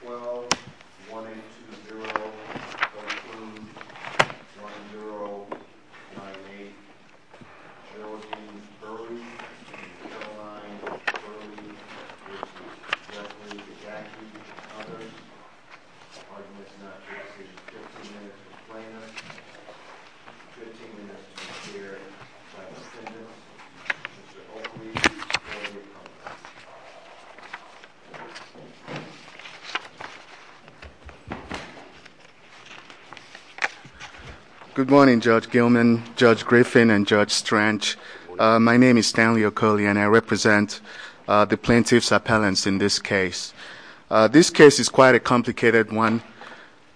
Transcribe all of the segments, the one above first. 12-120-13-1-0-9-8 My name is Stanley Okoli and I represent the plaintiff's appellants in this case. This case is quite a complicated one,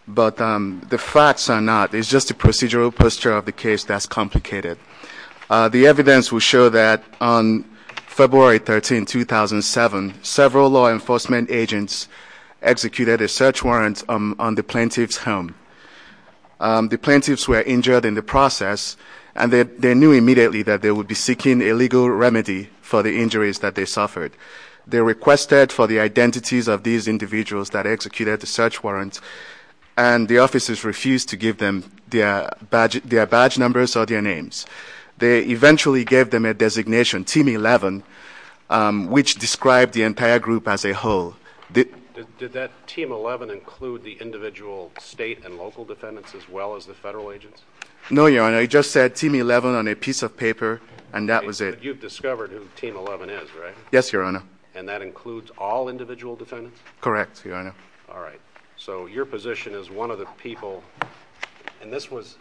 but the facts are not. It's just the procedural posture of the case that's complicated. The evidence will show that on February 13, 2007, several law enforcement agents executed a search warrant on the plaintiff's home. The plaintiffs were injured in the process and they knew immediately that they would be seeking a legal remedy for the injuries that they suffered. They requested for the identities of these individuals that executed the search warrant and the officers refused to give them their badge numbers or their names. They eventually gave them a designation, Team 11, which described the entire group as a whole. Did that Team 11 include the individual state and local defendants as well as the federal agents? No, Your Honor. I just said Team 11 on a piece of paper and that was it. You've discovered who Team 11 is, right? Yes, Your Honor. And that includes all individual defendants? Correct, Your Honor. All right. So your position is one of the people, and this was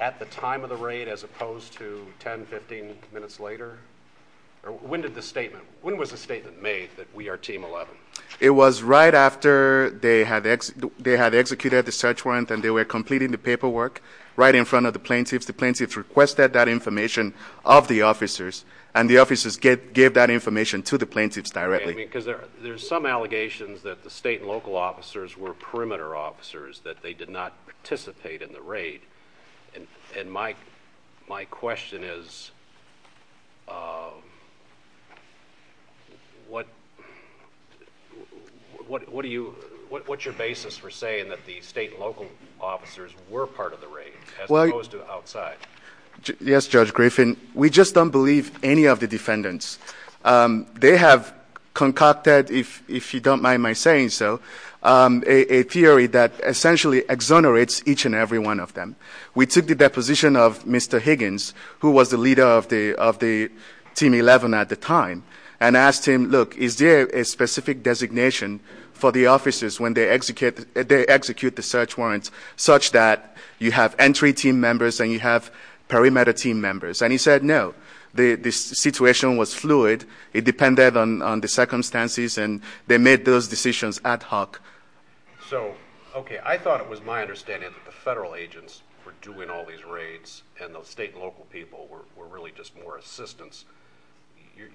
at the time of the raid as opposed to 10-15 minutes later? When was the statement made that we are Team 11? It was right after they had executed the search warrant and they were completing the paperwork right in front of the plaintiffs. The plaintiffs requested that information of the officers and the officers gave that information to the plaintiffs directly. There are some allegations that the state and local officers were perimeter officers, that they did not participate in the raid. And my question is, what's your basis for saying that the state and local officers were part of the raid as opposed to outside? Yes, Judge Griffin, we just don't believe any of the defendants. They have concocted, if you don't mind my saying so, a theory that essentially exonerates each and every one of them. We took the deposition of Mr. Higgins, who was the leader of Team 11 at the time, and asked him, look, is there a specific designation for the officers when they execute the search warrant such that you have entry team members and you have perimeter team members? And he said, no. The situation was fluid. It depended on the circumstances, and they made those decisions ad hoc. So, okay, I thought it was my understanding that the federal agents were doing all these raids and the state and local people were really just more assistance.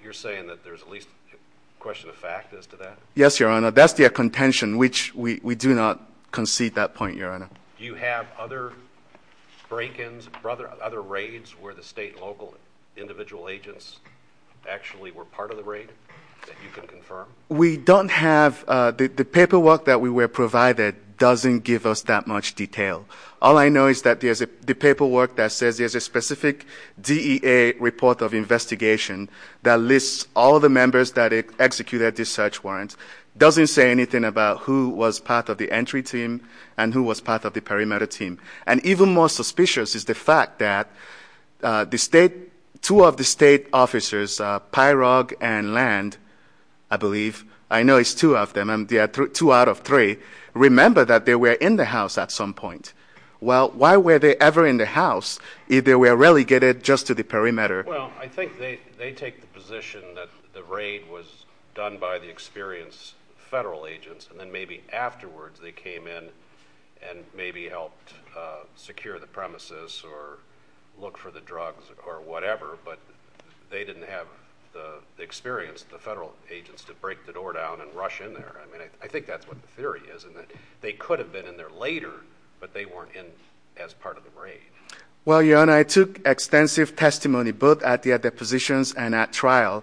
You're saying that there's at least a question of fact as to that? Yes, Your Honor, that's their contention, which we do not concede that point, Your Honor. Do you have other break-ins, other raids, where the state and local individual agents actually were part of the raid that you can confirm? We don't have the paperwork that we were provided doesn't give us that much detail. All I know is that the paperwork that says there's a specific DEA report of investigation that lists all the members that executed the search warrant doesn't say anything about who was part of the entry team and who was part of the perimeter team. And even more suspicious is the fact that two of the state officers, Pyrog and Land, I believe, I know it's two of them, and they are two out of three, remember that they were in the house at some point. Well, why were they ever in the house if they were relegated just to the perimeter? Well, I think they take the position that the raid was done by the experienced federal agents, and then maybe afterwards they came in and maybe helped secure the premises or look for the drugs or whatever, but they didn't have the experience of the federal agents to break the door down and rush in there. I mean, I think that's what the theory is in that they could have been in there later, but they weren't in as part of the raid. Well, Your Honor, I took extensive testimony both at the depositions and at trial,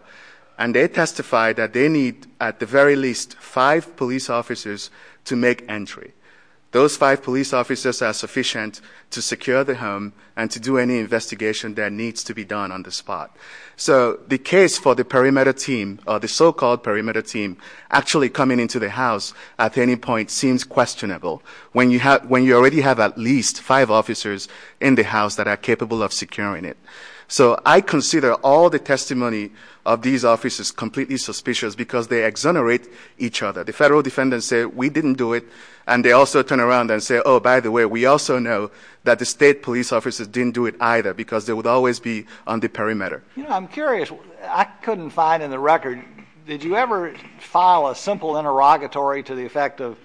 and they testified that they need at the very least five police officers to make entry. Those five police officers are sufficient to secure the home and to do any investigation that needs to be done on the spot. So the case for the perimeter team, or the so-called perimeter team, actually coming into the house at any point seems questionable when you already have at least five officers in the house that are capable of securing it. So I consider all the testimony of these officers completely suspicious because they exonerate each other. The federal defendants say, we didn't do it, and they also turn around and say, oh, by the way, we also know that the state police officers didn't do it either because they would always be on the perimeter. You know, I'm curious. I couldn't find in the record, did you ever file a simple interrogatory to the effect of,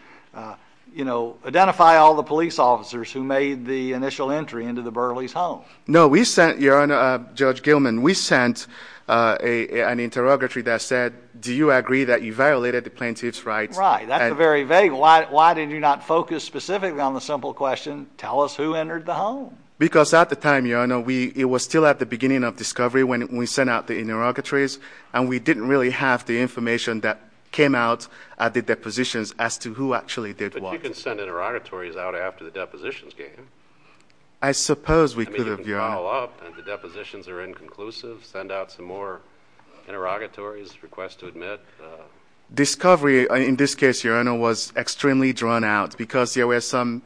you know, identify all the police officers who made the initial entry into the Burleys' home? No, we sent, Your Honor, Judge Gilman, we sent an interrogatory that said, do you agree that you violated the plaintiff's rights? Right, that's very vague. Why did you not focus specifically on the simple question, tell us who entered the home? Because at the time, Your Honor, it was still at the beginning of discovery when we sent out the interrogatories, and we didn't really have the information that came out at the depositions as to who actually did what. But you can send interrogatories out after the depositions game. I suppose we could, Your Honor. The depositions are inconclusive. Send out some more interrogatories, requests to admit. Discovery, in this case, Your Honor, was extremely drawn out because there were some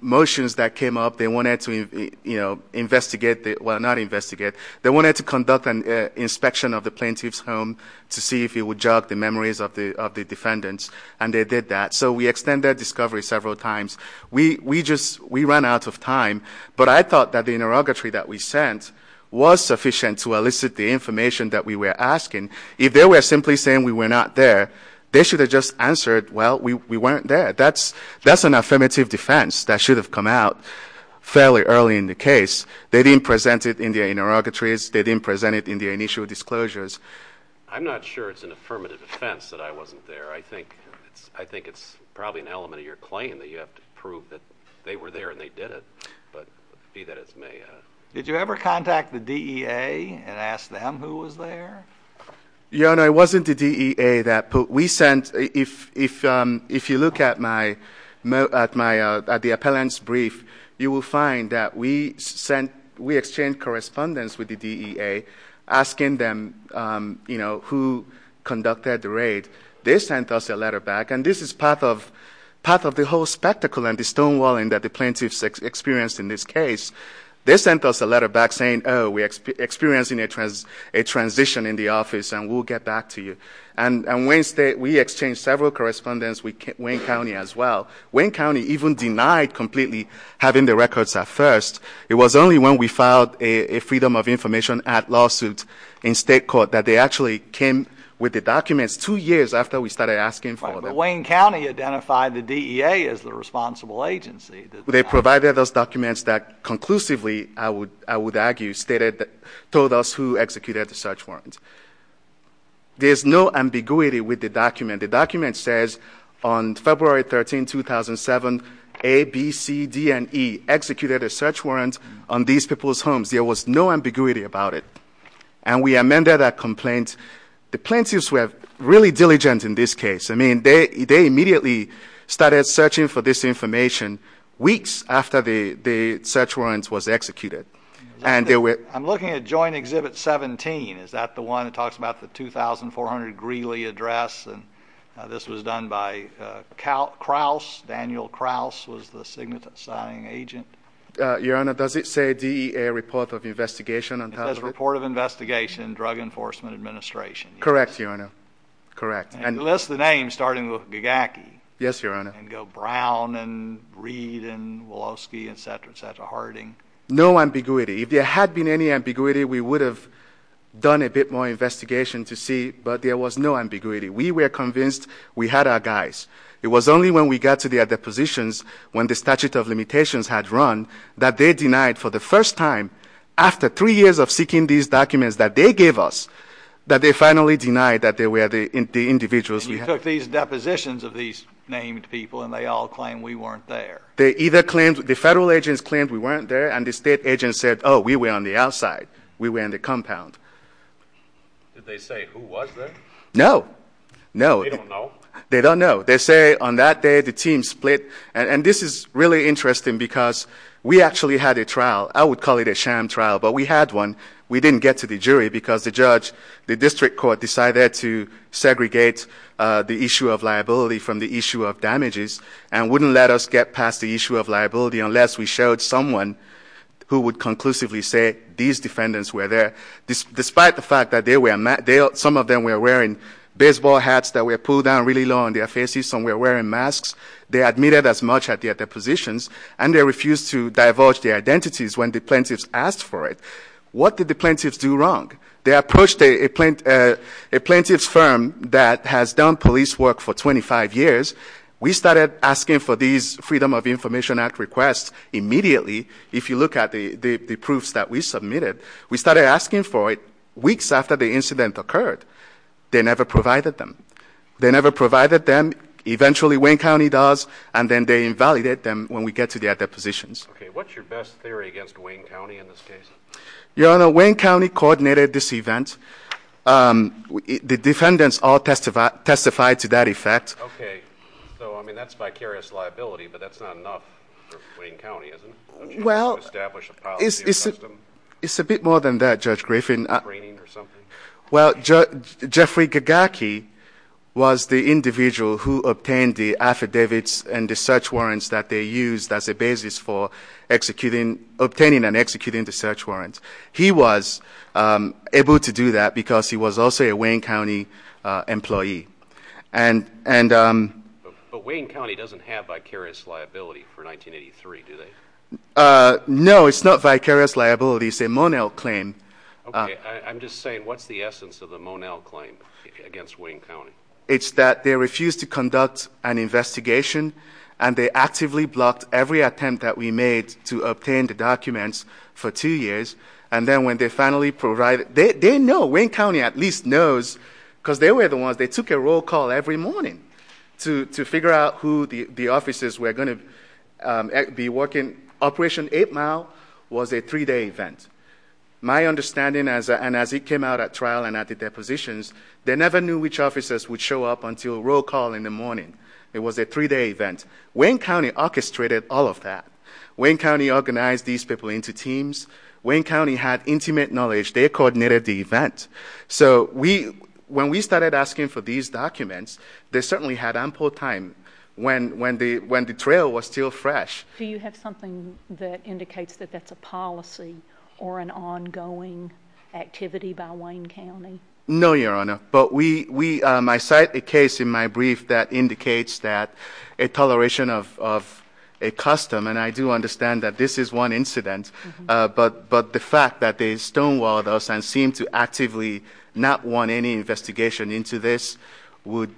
motions that came up. They wanted to, you know, investigate, well, not investigate. They wanted to conduct an inspection of the plaintiff's home to see if it would jog the memories of the defendants, and they did that. So we extended discovery several times. We ran out of time, but I thought that the interrogatory that we sent was sufficient to elicit the information that we were asking. If they were simply saying we were not there, they should have just answered, well, we weren't there. That's an affirmative defense that should have come out fairly early in the case. They didn't present it in the interrogatories. They didn't present it in the initial disclosures. I'm not sure it's an affirmative defense that I wasn't there. I think it's probably an element of your claim that you have to prove that they were there and they did it, but be that as may. Did you ever contact the DEA and ask them who was there? Your Honor, it wasn't the DEA. If you look at the appellant's brief, you will find that we exchanged correspondence with the DEA asking them, you know, who conducted the raid. They sent us a letter back, and this is part of the whole spectacle and the stonewalling that the plaintiffs experienced in this case. They sent us a letter back saying, oh, we're experiencing a transition in the office and we'll get back to you. And we exchanged several correspondence with Wayne County as well. Wayne County even denied completely having the records at first. It was only when we filed a Freedom of Information Act lawsuit in state court that they actually came with the documents two years after we started asking for them. Right, but Wayne County identified the DEA as the responsible agency. They provided us documents that conclusively, I would argue, told us who executed the search warrants. And the document says on February 13, 2007, A, B, C, D, and E executed a search warrant on these people's homes. There was no ambiguity about it. And we amended our complaint. The plaintiffs were really diligent in this case. I mean, they immediately started searching for this information weeks after the search warrants was executed. I'm looking at Joint Exhibit 17. Is that the one that talks about the 2400 Greeley Address? This was done by Daniel Krause, who was the signifying agent. Your Honor, does it say DEA Report of Investigation? It says Report of Investigation, Drug Enforcement Administration. Correct, Your Honor. Correct. And it lists the names, starting with Bigaki. Yes, Your Honor. And go Brown and Reed and Woloski, et cetera, et cetera, Harding. No ambiguity. If there had been any ambiguity, we would have done a bit more investigation to see. But there was no ambiguity. We were convinced we had our guys. It was only when we got to their depositions, when the statute of limitations had run, that they denied for the first time, after three years of seeking these documents that they gave us, that they finally denied that they were the individuals. And you took these depositions of these named people, and they all claimed we weren't there. The federal agents claimed we weren't there, and the state agents said, oh, we were on the outside. We were in the compound. Did they say who was there? No. They don't know. They don't know. They say on that day the team split. And this is really interesting because we actually had a trial. I would call it a sham trial, but we had one. We didn't get to the jury because the judge, the district court, decided to segregate the issue of liability from the issue of damages and wouldn't let us get past the issue of liability unless we showed someone who would conclusively say these defendants were there. Despite the fact that some of them were wearing baseball hats that were pulled down really low on their faces, some were wearing masks, they admitted as much at their depositions, and they refused to divulge their identities when the plaintiffs asked for it. What did the plaintiffs do wrong? They approached a plaintiff's firm that has done police work for 25 years. We started asking for these Freedom of Information Act requests immediately. If you look at the proofs that we submitted, we started asking for it weeks after the incident occurred. They never provided them. They never provided them. Eventually, Wayne County does, and then they invalidate them when we get to their depositions. Okay. What's your best theory against Wayne County in this case? Your Honor, Wayne County coordinated this event. The defendants all testified to that effect. Okay. So, I mean, that's vicarious liability, but that's not enough for Wayne County, is it? Well, it's a bit more than that, Judge Griffin. Well, Jeffrey Gagaki was the individual who obtained the affidavits and the search warrants that they used as a basis for obtaining and executing the search warrants. He was able to do that because he was also a Wayne County employee. But Wayne County doesn't have vicarious liability for 1983, do they? No, it's not vicarious liability. It's a Monell claim. Okay. I'm just saying, what's the essence of the Monell claim against Wayne County? It's that they refused to conduct an investigation, and they actively blocked every attempt that we made to obtain the documents for two years, and then when they finally provided it, they know, Wayne County at least knows, because they were the ones, they took a roll call every morning to figure out who the officers were going to be working. Operation 8 Mile was a three-day event. My understanding, and as it came out at trial and at the depositions, they never knew which officers would show up until roll call in the morning. It was a three-day event. Wayne County orchestrated all of that. Wayne County organized these people into teams. Wayne County had intimate knowledge. They coordinated the event. So when we started asking for these documents, they certainly had ample time when the trail was still fresh. Do you have something that indicates that that's a policy or an ongoing activity by Wayne County? No, Your Honor. But I cite a case in my brief that indicates that a toleration of a custom, and I do understand that this is one incident, but the fact that they stonewalled us and seemed to actively not want any investigation into this would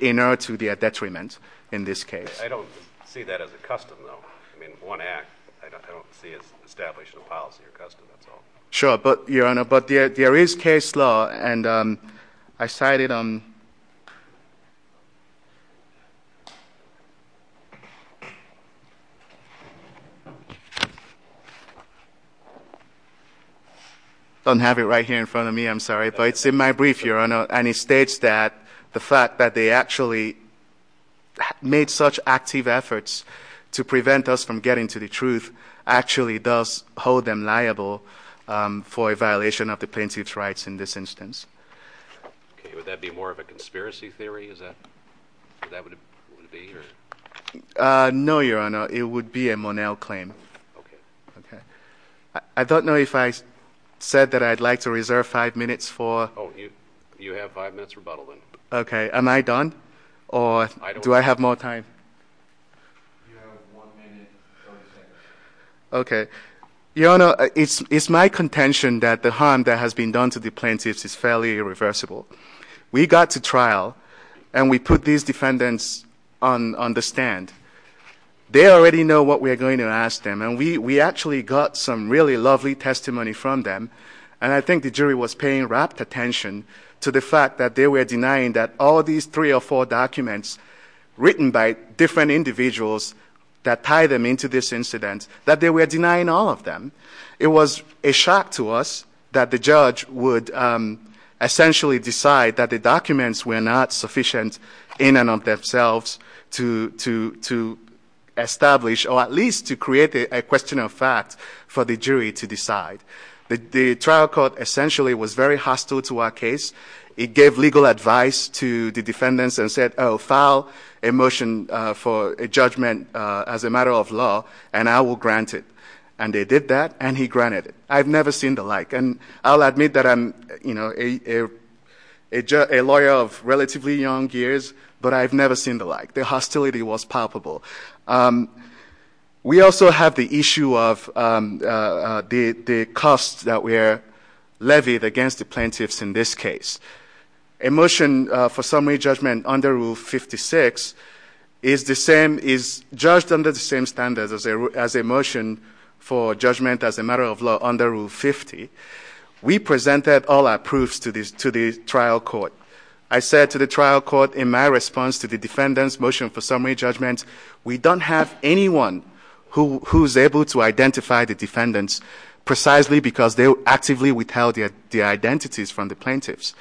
inert to their detriment in this case. I don't see that as a custom, though. I mean, one act, I don't see it as an established policy or custom at all. Sure, Your Honor. But there is case law, and I cited them. I don't have it right here in front of me. I'm sorry. But it's in my brief, Your Honor, and it states that the fact that they actually made such active efforts to prevent us from getting to the truth actually does hold them liable for a violation of the plaintiff's rights in this instance. Would that be more of a conspiracy theory? No, Your Honor. It would be a Monell claim. I don't know if I said that I'd like to reserve five minutes for... You have five minutes rebuttal. Okay. Am I done, or do I have more time? You have one minute. Okay. Your Honor, it's my contention that the harm that has been done to the plaintiffs is fairly irreversible. We got to trial, and we put these defendants on the stand. They already know what we're going to ask them, and we actually got some really lovely testimony from them, and I think the jury was paying rapt attention to the fact that they were denying that all these three or four documents written by different individuals that tie them into this incident, that they were denying all of them. It was a shock to us that the judge would essentially decide that the documents were not sufficient in and of themselves to establish or at least to create a question of fact for the jury to decide. The trial court essentially was very hostile to our case. It gave legal advice to the defendants and said, Oh, file a motion for a judgment as a matter of law, and I will grant it. And they did that, and he granted it. I've never seen the like, and I'll admit that I'm a lawyer of relatively young years, but I've never seen the like. The hostility was palpable. We also have the issue of the costs that were levied against the plaintiffs in this case. A motion for summary judgment under Rule 56 is the same, is judged under the same standards as a motion for judgment as a matter of law under Rule 50. We presented all our proofs to the trial court. I said to the trial court in my response to the defendant's motion for summary judgment, we don't have anyone who's able to identify the defendants precisely because they actively withheld their identities from the plaintiffs.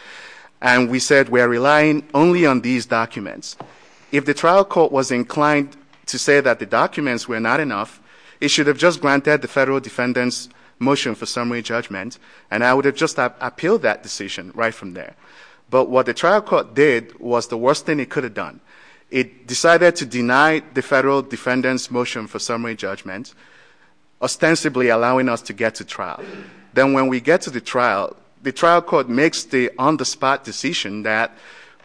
And we said we're relying only on these documents. If the trial court was inclined to say that the documents were not enough, it should have just granted the federal defendant's motion for summary judgment, and I would have just appealed that decision right from there. But what the trial court did was the worst thing it could have done. It decided to deny the federal defendant's motion for summary judgment, ostensibly allowing us to get to trial. Then when we get to the trial, the trial court makes the on-the-spot decision that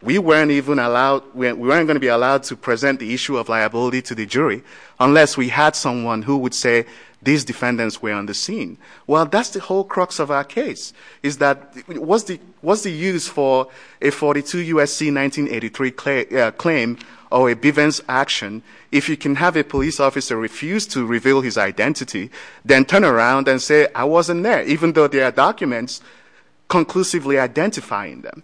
we weren't going to be allowed to present the issue of liability to the jury unless we had someone who would say these defendants were on the scene. Well, that's the whole crux of our case, is that what's the use for a 42 U.S.C. 1983 claim or a Bivens action if you can have a police officer refuse to reveal his identity, then turn around and say I wasn't there, even though there are documents conclusively identifying them.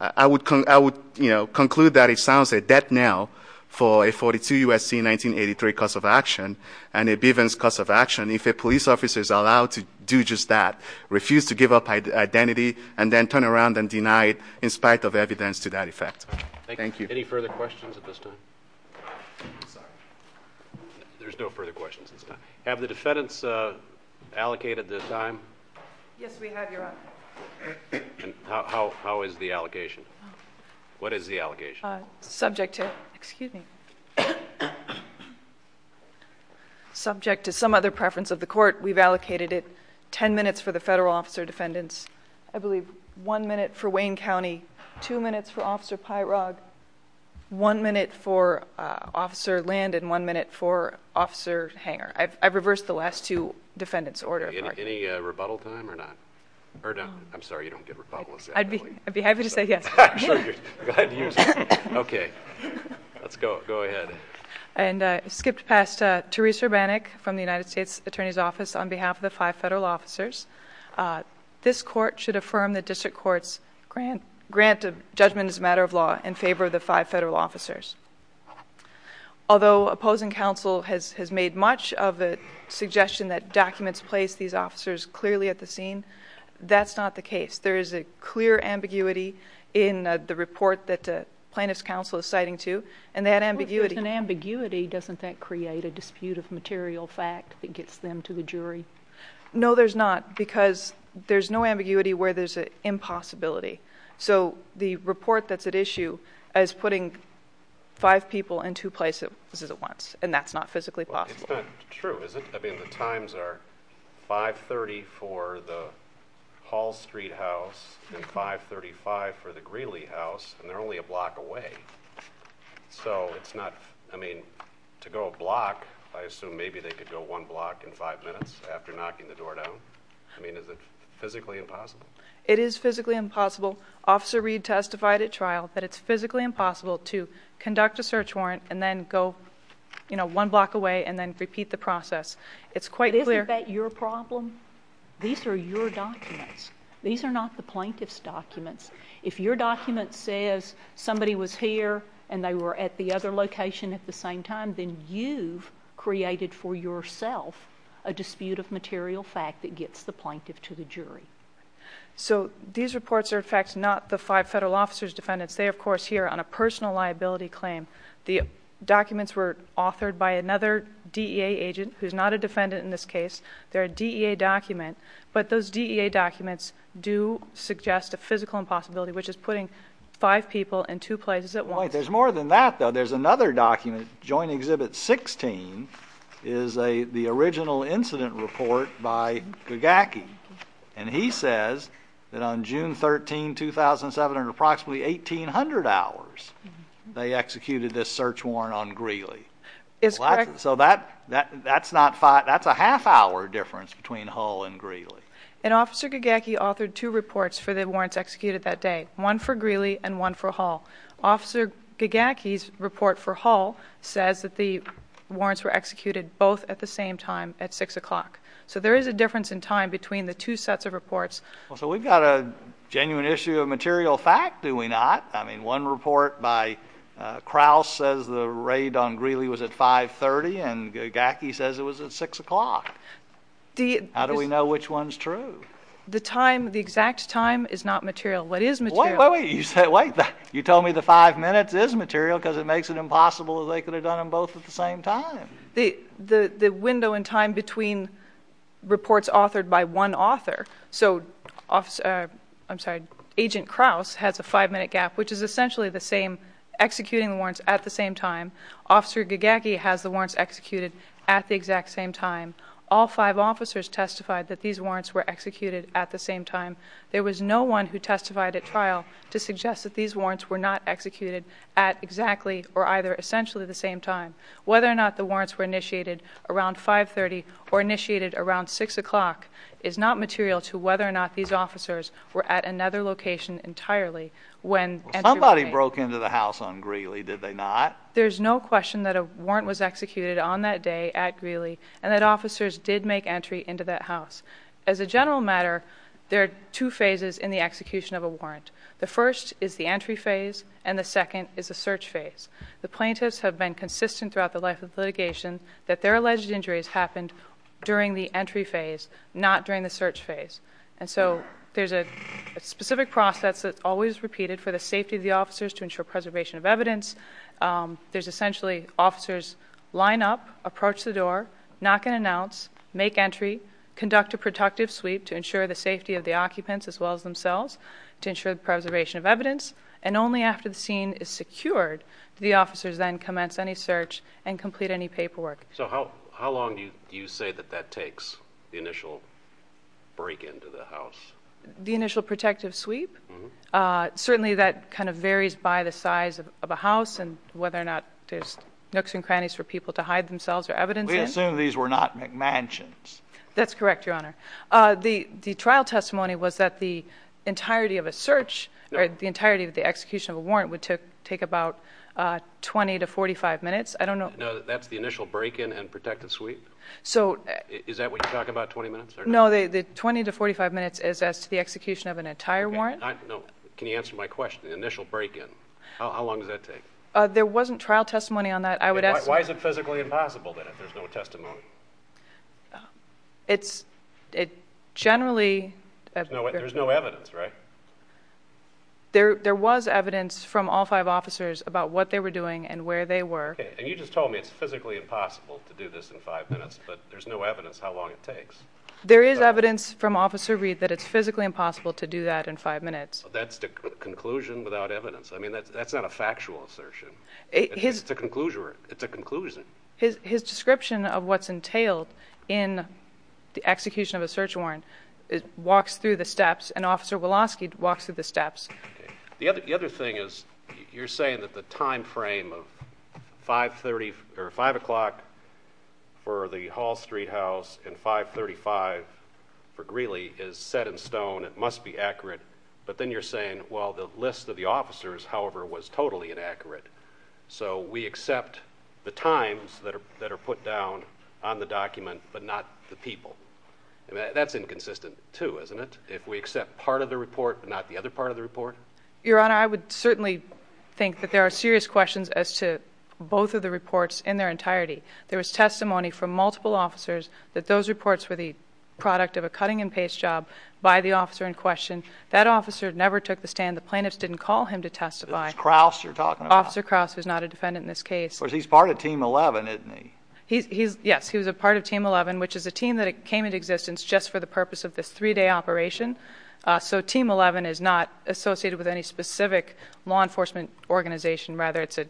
I would conclude that it sounds a death knell for a 42 U.S.C. 1983 cause of action and a Bivens cause of action if a police officer is allowed to do just that, refuse to give up identity, and then turn around and deny it in spite of evidence to that effect. Thank you. Any further questions at this time? There's no further questions at this time. Have the defendants allocated this time? Yes, we have, Your Honor. How is the allegation? What is the allegation? Subject to some other preference of the court, we've allocated it ten minutes for the federal officer defendants, I believe one minute for Wayne County, two minutes for Officer Pyrog, one minute for Officer Land, and one minute for Officer Hanger. I've reversed the last two defendants' orders. Any rebuttal time or not? I'm sorry, you don't get rebuttals, do you? I'd be happy to say yes. Okay. Let's go ahead. And I skipped past Theresa Benick from the United States Attorney's Office on behalf of the five federal officers. This court should affirm the district court's grant of judgment as a matter of law in favor of the five federal officers. Although opposing counsel has made much of the suggestion that documents place these officers clearly at the scene, that's not the case. There is a clear ambiguity in the report that the plaintiff's counsel is citing to, and that ambiguity... Well, if there's an ambiguity, doesn't that create a dispute of material fact that gets them to the jury? No, there's not, because there's no ambiguity where there's an impossibility. So the report that's at issue is putting five people in two places at once, and that's not physically possible. Well, it's not true, is it? I mean, the times are 530 for the Hall Street house and 535 for the Greeley house, and they're only a block away. So it's not, I mean, to go a block, I assume maybe they could go one block in five minutes after knocking the door down. I mean, is it physically impossible? It is physically impossible. Officer Reed testified at trial that it's physically impossible to conduct a search warrant and then go, you know, one block away and then repeat the process. Isn't that your problem? These are your documents. These are not the plaintiff's documents. If your document says somebody was here and they were at the other location at the same time, then you've created for yourself a dispute of material fact that gets the plaintiff to the jury. So these reports are, in fact, not the five federal officers' defendants. They, of course, here on a personal liability claim. The documents were authored by another DEA agent who's not a defendant in this case. They're a DEA document. But those DEA documents do suggest a physical impossibility, which is putting five people in two places at once. There's more than that, though. There's another document, Joint Exhibit 16, is the original incident report by Gagaki. And he says that on June 13, 2007, in approximately 1,800 hours, they executed this search warrant on Greeley. So that's a half-hour difference between Hull and Greeley. And Officer Gagaki authored two reports for the warrants executed that day, one for Greeley and one for Hull. Officer Gagaki's report for Hull says that the warrants were executed both at the same time at 6 o'clock. So there is a difference in time between the two sets of reports. So we've got a genuine issue of material fact, do we not? I mean, one report by Kraus says the raid on Greeley was at 5.30, and Gagaki says it was at 6 o'clock. How do we know which one's true? The time, the exact time, is not material. What is material? Wait, wait, wait. You tell me the five minutes is material because it makes it impossible that they could have done them both at the same time. The window in time between reports authored by one author. So Agent Kraus has a five-minute gap which is essentially the same executing warrants at the same time. Officer Gagaki has the warrants executed at the exact same time. All five officers testified that these warrants were executed at the same time. There was no one who testified at trial to suggest that these warrants were not executed at exactly or either essentially the same time. Whether or not the warrants were initiated around 5.30 or initiated around 6 o'clock is not material to whether or not these officers were at another location entirely when entry was made. Somebody broke into the house on Greeley, did they not? There's no question that a warrant was executed on that day at Greeley and that officers did make entry into that house. As a general matter, there are two phases in the execution of a warrant. The first is the entry phase and the second is the search phase. The plaintiffs have been consistent throughout the life of litigation that their alleged injuries happened during the entry phase, not during the search phase. There's a specific process that's always repeated for the safety of the officers to ensure preservation of evidence. There's essentially officers line up, approach the door, knock and announce, make entry, conduct a protective sweep to ensure the safety of the occupants as well as themselves to ensure the preservation of evidence, and only after the scene is secured do the officers then commence any search and complete any paperwork. So how long do you say that that takes, the initial break into the house? The initial protective sweep? Certainly that kind of varies by the size of a house and whether or not there's nooks and crannies for people to hide themselves or evidence in. We assume these were not McMansions. That's correct, Your Honor. The trial testimony was that the entirety of a search or the entirety of the execution of a warrant would take about 20 to 45 minutes. That's the initial break-in and protective sweep? Is that what you're talking about, 20 minutes? No, the 20 to 45 minutes is the execution of an entire warrant. Can you answer my question, the initial break-in? How long does that take? There wasn't trial testimony on that. Why is it physically impossible then if there's no testimony? There's no evidence, right? There was evidence from all five officers about what they were doing and where they were. Okay, and you just told me it's physically impossible to do this in five minutes, but there's no evidence how long it takes. There is evidence from Officer Reed that it's physically impossible to do that in five minutes. That's the conclusion without evidence. I mean, that's not a factual assertion. It's a conclusion. His description of what's entailed in the execution of a search warrant and Officer Woloski walks through the steps. The other thing is you're saying that the time frame of 5 o'clock for the Hall Street house and 5.35 for Greeley is set in stone, it must be accurate, but then you're saying, well, the list of the officers, however, was totally inaccurate. So we accept the times that are put down on the document but not the people. That's inconsistent too, isn't it, Your Honour, I would certainly think that there are serious questions as to both of the reports in their entirety. There was testimony from multiple officers that those reports were the product of a cutting-and-paste job by the officer in question. That officer never took the stand. The plaintiff didn't call him to testify. It was Kraus you're talking about. Officer Kraus is not a defendant in this case. But he's part of Team 11, isn't he? Yes, he's a part of Team 11, which is a team that came into existence just for the purpose of this three-day operation. So Team 11 is not associated with any specific law enforcement organization. Rather, it's a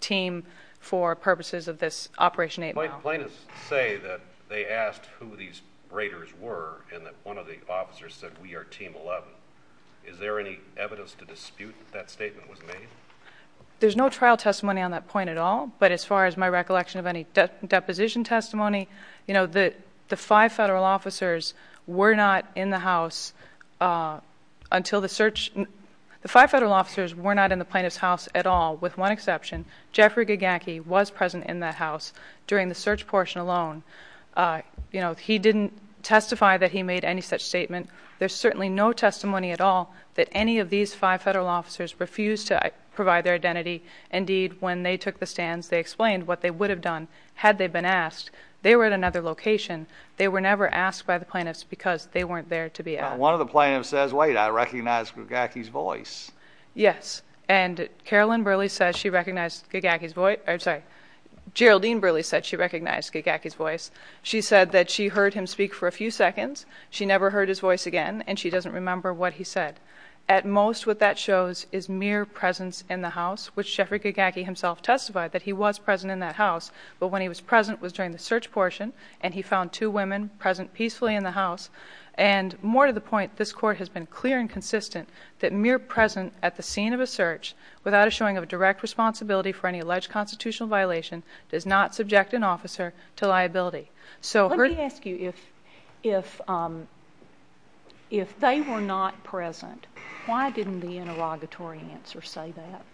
team for purposes of this Operation 8. My plaintiffs say that they asked who these raiders were and that one of the officers said, we are Team 11. Is there any evidence to dispute that statement was made? There's no trial testimony on that point at all. But as far as my recollection of any deposition testimony, the five federal officers were not in the plaintiff's house at all, with one exception. Jeffrey Gaganke was present in the house during the search portion alone. He didn't testify that he made any such statement. There's certainly no testimony at all that any of these five federal officers refused to provide their identity. Indeed, when they took the stand, they explained what they would have done had they been asked. They were at another location. They were never asked by the plaintiffs because they weren't there to be asked. One of the plaintiffs says, wait, I recognize Gaganke's voice. Yes, and Carolyn Burley says she recognized Gaganke's voice. I'm sorry, Geraldine Burley said she recognized Gaganke's voice. She said that she heard him speak for a few seconds. She never heard his voice again, and she doesn't remember what he said. At most, what that shows is mere presence in the house, which Jeffrey Gaganke himself testified that he was present in that house, but when he was present was during the search portion, and he found two women present peacefully in the house. More to the point, this court has been clear and consistent that mere presence at the scene of a search without a showing of direct responsibility for any alleged constitutional violation does not subject an officer to liability. Let me ask you, if they were not present, why didn't the interrogatory answer say that?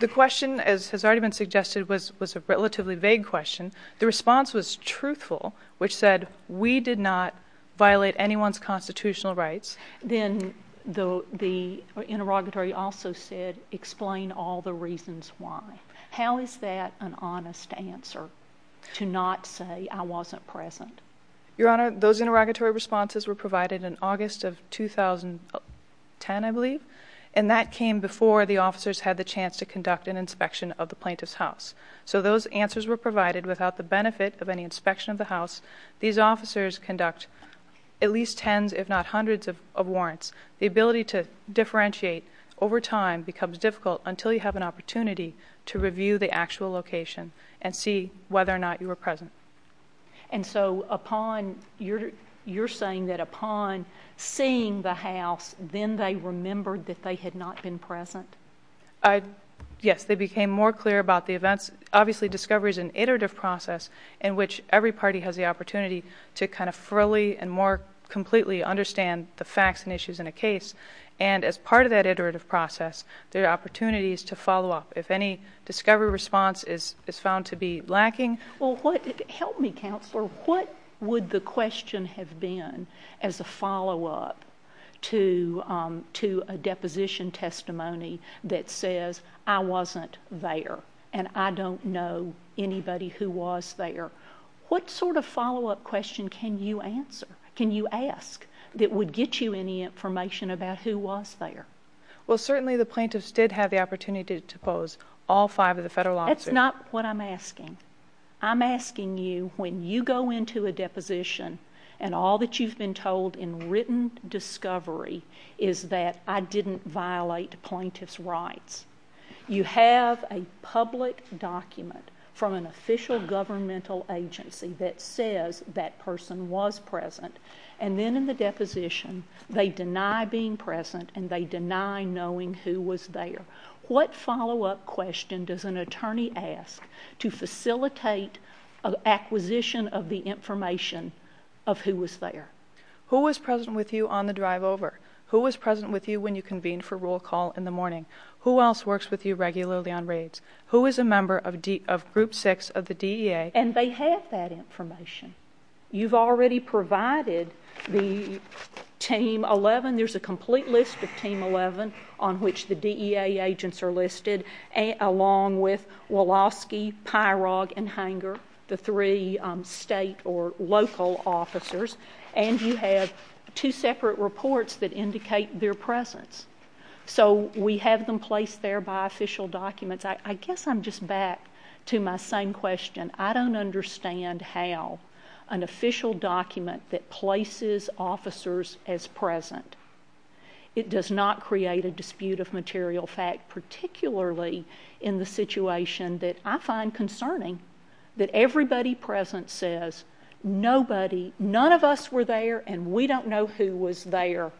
The question, as has already been suggested, was a relatively vague question. The response was truthful, which said, we did not violate anyone's constitutional rights. Then the interrogatory officer said, explain all the reasons why. How is that an honest answer, to not say I wasn't present? Your Honor, those interrogatory responses were provided in August of 2010, I believe, and that came before the officers had the chance to conduct an inspection of the plaintiff's house. So those answers were provided without the benefit of any inspection of the house. These officers conduct at least tens if not hundreds of warrants. The ability to differentiate over time becomes difficult until you have an opportunity to review the actual location and see whether or not you were present. And so you're saying that upon seeing the house, then they remembered that they had not been present? Yes, they became more clear about the events. Obviously, discovery is an iterative process in which every party has the opportunity to kind of fully and more completely understand the facts and issues in a case. And as part of that iterative process, there are opportunities to follow up. If any discovery response is found to be lacking... Help me, Counselor. What would the question have been as a follow-up to a deposition testimony that says I wasn't there and I don't know anybody who was there? What sort of follow-up question can you ask that would get you any information about who was there? Well, certainly the plaintiffs did have the opportunity to pose all five of the federal lawsuits. That's not what I'm asking. I'm asking you when you go into a deposition and all that you've been told in written discovery is that I didn't violate plaintiff's rights, you have a public document from an official governmental agency that says that person was present, and then in the deposition they deny being present and they deny knowing who was there. What follow-up question does an attorney ask to facilitate acquisition of the information of who was there? Who was present with you on the drive over? Who was present with you when you convened for roll call in the morning? Who else works with you regularly on raids? Who is a member of group six of the DEA? And they have that information. You've already provided the Team 11. There's a complete list of Team 11 on which the DEA agents are listed, along with Wolofsky, Pyrog, and Hanger, the three state or local officers, and you have two separate reports that indicate their presence. So we have them placed there by official documents. I guess I'm just back to my same question. I don't understand how an official document that places officers as present, it does not create a dispute of material fact, particularly in the situation that I find concerning that everybody present says nobody, none of us were there and we don't know who was there.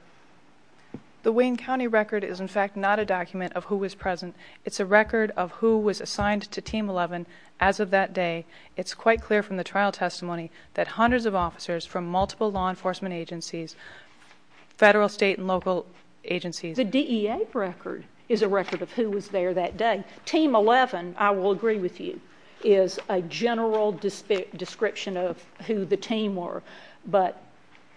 The Wayne County record is, in fact, not a document of who was present. It's a record of who was assigned to Team 11 as of that day. It's quite clear from the trial testimony that hundreds of officers from multiple law enforcement agencies, federal, state, and local agencies. The DEA record is a record of who was there that day. Team 11, I will agree with you, is a general description of who the team were, but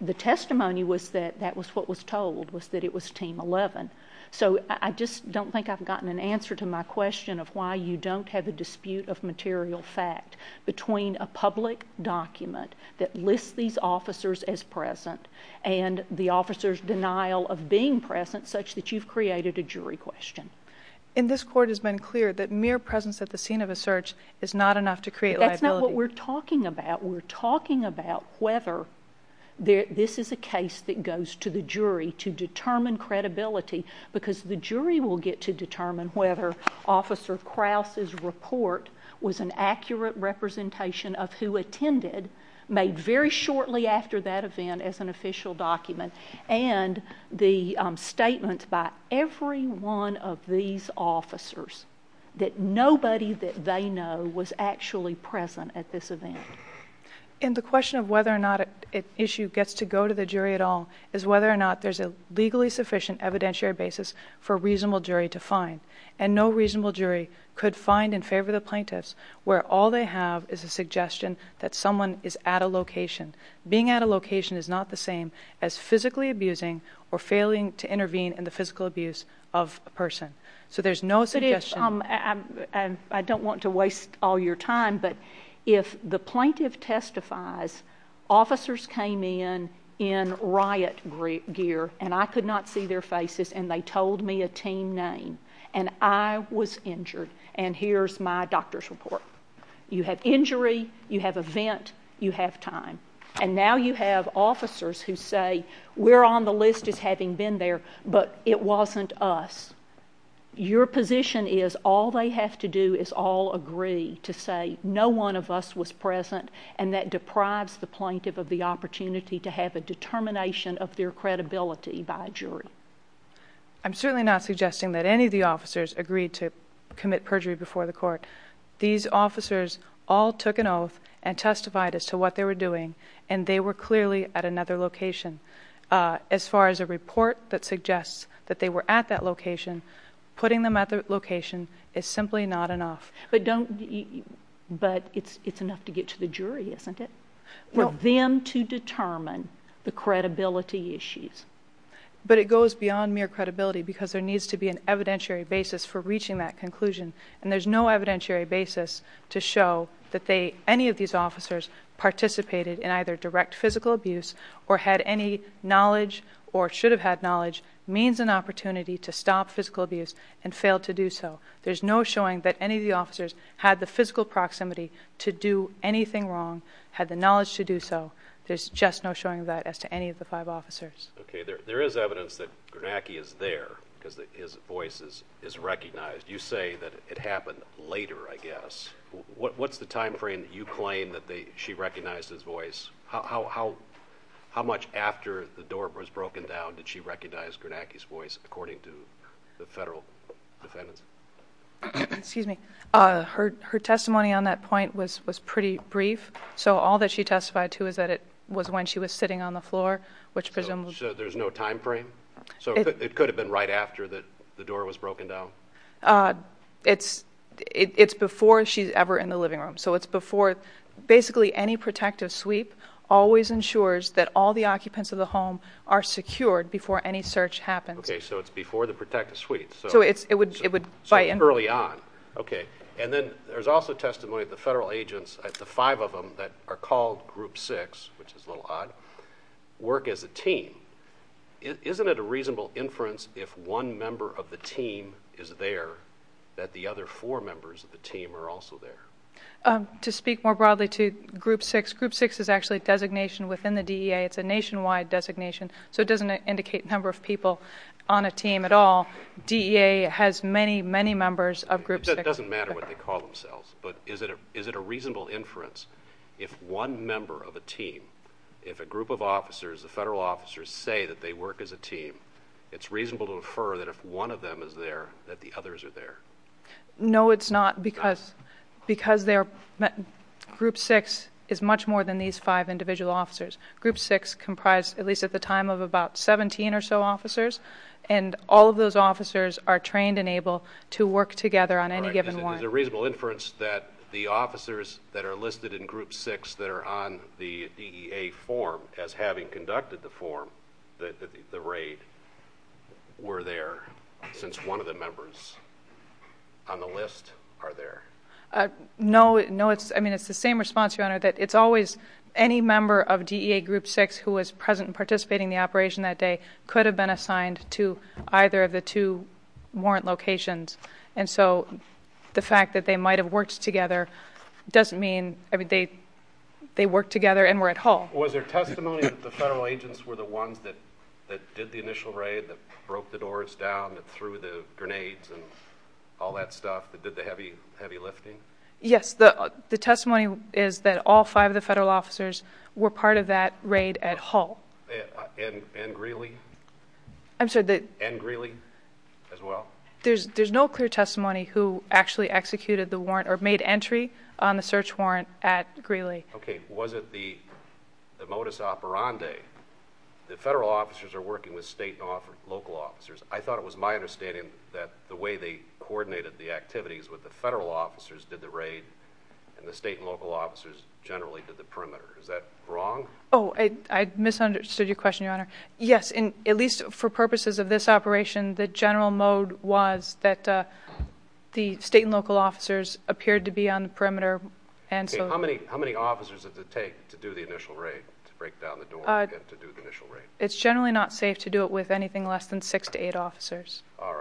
the testimony was that that was what was told was that it was Team 11. So I just don't think I've gotten an answer to my question of why you don't have a dispute of material fact between a public document that lists these officers as present and the officers' denial of being present such that you've created a jury question. And this Court has been clear that mere presence at the scene of a search is not enough to create liability. That's not what we're talking about. We're talking about whether this is a case that goes to the jury to determine credibility because the jury will get to determine whether Officer Krause's report was an accurate representation of who attended made very shortly after that event as an official document and the statements by every one of these officers that nobody that they know was actually present at this event. And the question of whether or not an issue gets to go to the jury at all is whether or not there's a legally sufficient evidentiary basis for a reasonable jury to find. And no reasonable jury could find in favor of the plaintiff where all they have is a suggestion that someone is at a location. Being at a location is not the same as physically abusing or failing to intervene in the physical abuse of a person. So there's no suggestion. I don't want to waste all your time, but if the plaintiff testifies, officers came in in riot gear and I could not see their faces and they told me a team name and I was injured and here's my doctor's report. You have injury, you have event, you have time. And now you have officers who say we're on the list of having been there but it wasn't us. Your position is all they have to do is all agree to say no one of us was present and that deprives the plaintiff of the opportunity to have a determination of their credibility by a jury. I'm certainly not suggesting that any of the officers agreed to commit perjury before the court. These officers all took an oath and testified as to what they were doing and they were clearly at another location. As far as a report that suggests that they were at that location, putting them at that location is simply not enough. But it's enough to get to the jury, isn't it? For them to determine the credibility issues. But it goes beyond mere credibility because there needs to be an evidentiary basis for reaching that conclusion and there's no evidentiary basis to show that any of these officers participated in either direct physical abuse or had any knowledge or should have had knowledge, means an opportunity to stop physical abuse and failed to do so. There's no showing that any of the officers had the physical proximity to do anything wrong, had the knowledge to do so. There's just no showing of that as to any of the five officers. There is evidence that Gernacki is there because his voice is recognized. You say that it happened later, I guess. What's the timeframe that you claim that she recognized his voice? How much after the door was broken down did she recognize Gernacki's voice according to the federal defendant? Her testimony on that point was pretty brief. So all that she testified to is that it was when she was sitting on the floor. So there's no timeframe? So it could have been right after the door was broken down? It's before she's ever in the living room. Basically any protective sweep always ensures that all the occupants of the home are secured before any search happens. Okay, so it's before the protective sweep. So it's early on. And then there's also testimony of the federal agents, the five of them that are called Group 6, which is a little odd, work as a team. Isn't it a reasonable inference if one member of the team is there that the other four members of the team are also there? To speak more broadly to Group 6, Group 6 is actually a designation within the DEA. It's a nationwide designation, so it doesn't indicate a number of people on a team at all. DEA has many, many members of Group 6. It doesn't matter what they call themselves, but is it a reasonable inference if one member of a team, if a group of officers, the federal officers say that they work as a team, it's reasonable to infer that if one of them is there, that the others are there? No, it's not, because Group 6 is much more than these five individual officers. Group 6 comprised, at least at the time, of about 17 or so officers, and all of those officers are trained and able to work together on any given one. Is it a reasonable inference that the officers that are listed in Group 6 that are on the DEA form, as having conducted the form, the raid, were there since one of the members on the list are there? No, it's the same response, Your Honor, that it's always any member of DEA Group 6 who was present and participating in the operation that day could have been assigned to either of the two warrant locations. The fact that they might have worked together doesn't mean they worked together and were at Hull. Was there testimony that the federal agents were the ones that did the initial raid, that broke the doors down, that threw the grenades and all that stuff, that did the heavy lifting? Yes, the testimony is that all five of the federal officers were part of that raid at Hull. And Greeley as well? There's no clear testimony who actually executed the warrant or made entry on the search warrant at Greeley. Okay, was it the modus operandi, the federal officers are working with state and local officers? I thought it was my understanding that the way they coordinated the activities was the federal officers did the raid and the state and local officers generally did the perimeter. Is that wrong? Oh, I misunderstood your question, Your Honor. Yes, at least for purposes of this operation, the general mode was that the state and local officers appeared to be on the perimeter. Okay, how many officers does it take to do the initial raid, to break down the door and to do the initial raid? It's generally not safe to do it with anything less than six to eight officers. All right.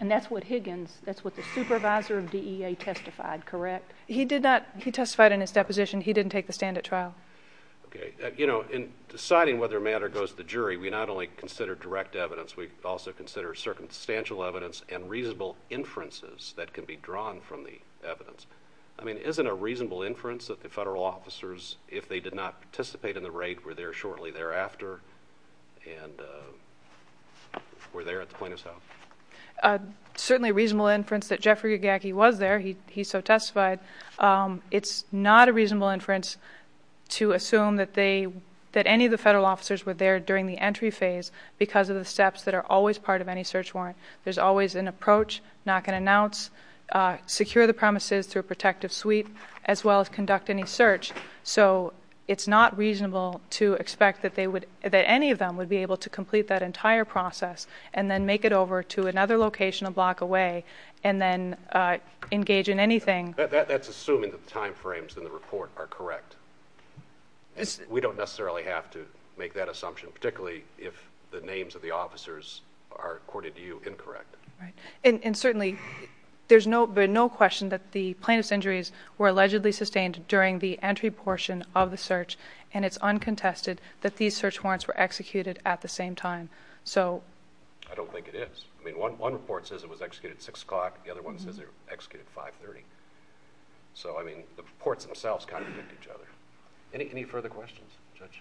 And that's what Higgins, that's what the supervisor of DEA testified, correct? He testified in his deposition he didn't take the stand at trial. Okay. You know, in deciding whether a matter goes to the jury, we not only consider direct evidence, we also consider circumstantial evidence and reasonable inferences that can be drawn from the evidence. I mean, isn't it a reasonable inference that the federal officers, if they did not participate in the raid, were there shortly thereafter and were there at the point of sale? Certainly a reasonable inference that Jeffrey Gaghe was there. He so testified. It's not a reasonable inference to assume that any of the federal officers were there during the entry phase because of the steps that are always part of any search warrant. There's always an approach, knock and announce, secure the premises through a protective suite, as well as conduct any search. So it's not reasonable to expect that any of them would be able to complete that entire process and then make it over to another location a block away and then engage in anything. That's assuming the time frames in the report are correct. We don't necessarily have to make that assumption, particularly if the names of the officers are, according to you, incorrect. Right. And certainly there's no question that the plaintiff's injuries were allegedly sustained during the entry portion of the search, and it's uncontested that these search warrants were executed at the same time. I don't think it is. I mean, one report says it was executed at 6 o'clock. The other one says it was executed at 5.30. So, I mean, the reports themselves contradict each other. Any further questions, Judge?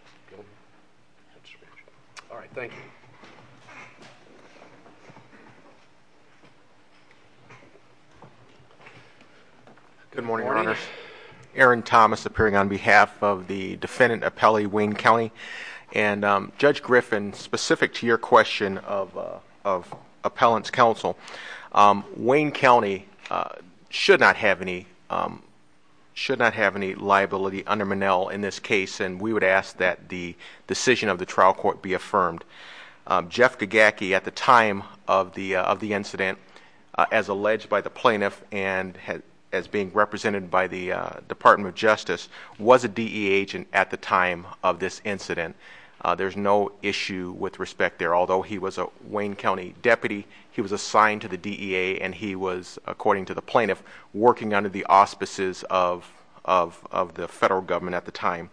All right, thank you. Good morning, Your Honor. Aaron Thomas appearing on behalf of the defendant appellee, Wayne Kelly. And, Judge Griffin, specific to your question of appellant's counsel, Wayne County should not have any liability under Monell in this case, and we would ask that the decision of the trial court be affirmed. Jeff Gagacki, at the time of the incident, as alleged by the plaintiff and as being represented by the Department of Justice, was a DE agent at the time of this incident. There's no issue with respect there, although he was a Wayne County deputy. He was assigned to the DEA, and he was, according to the plaintiff, working under the auspices of the federal government at the time.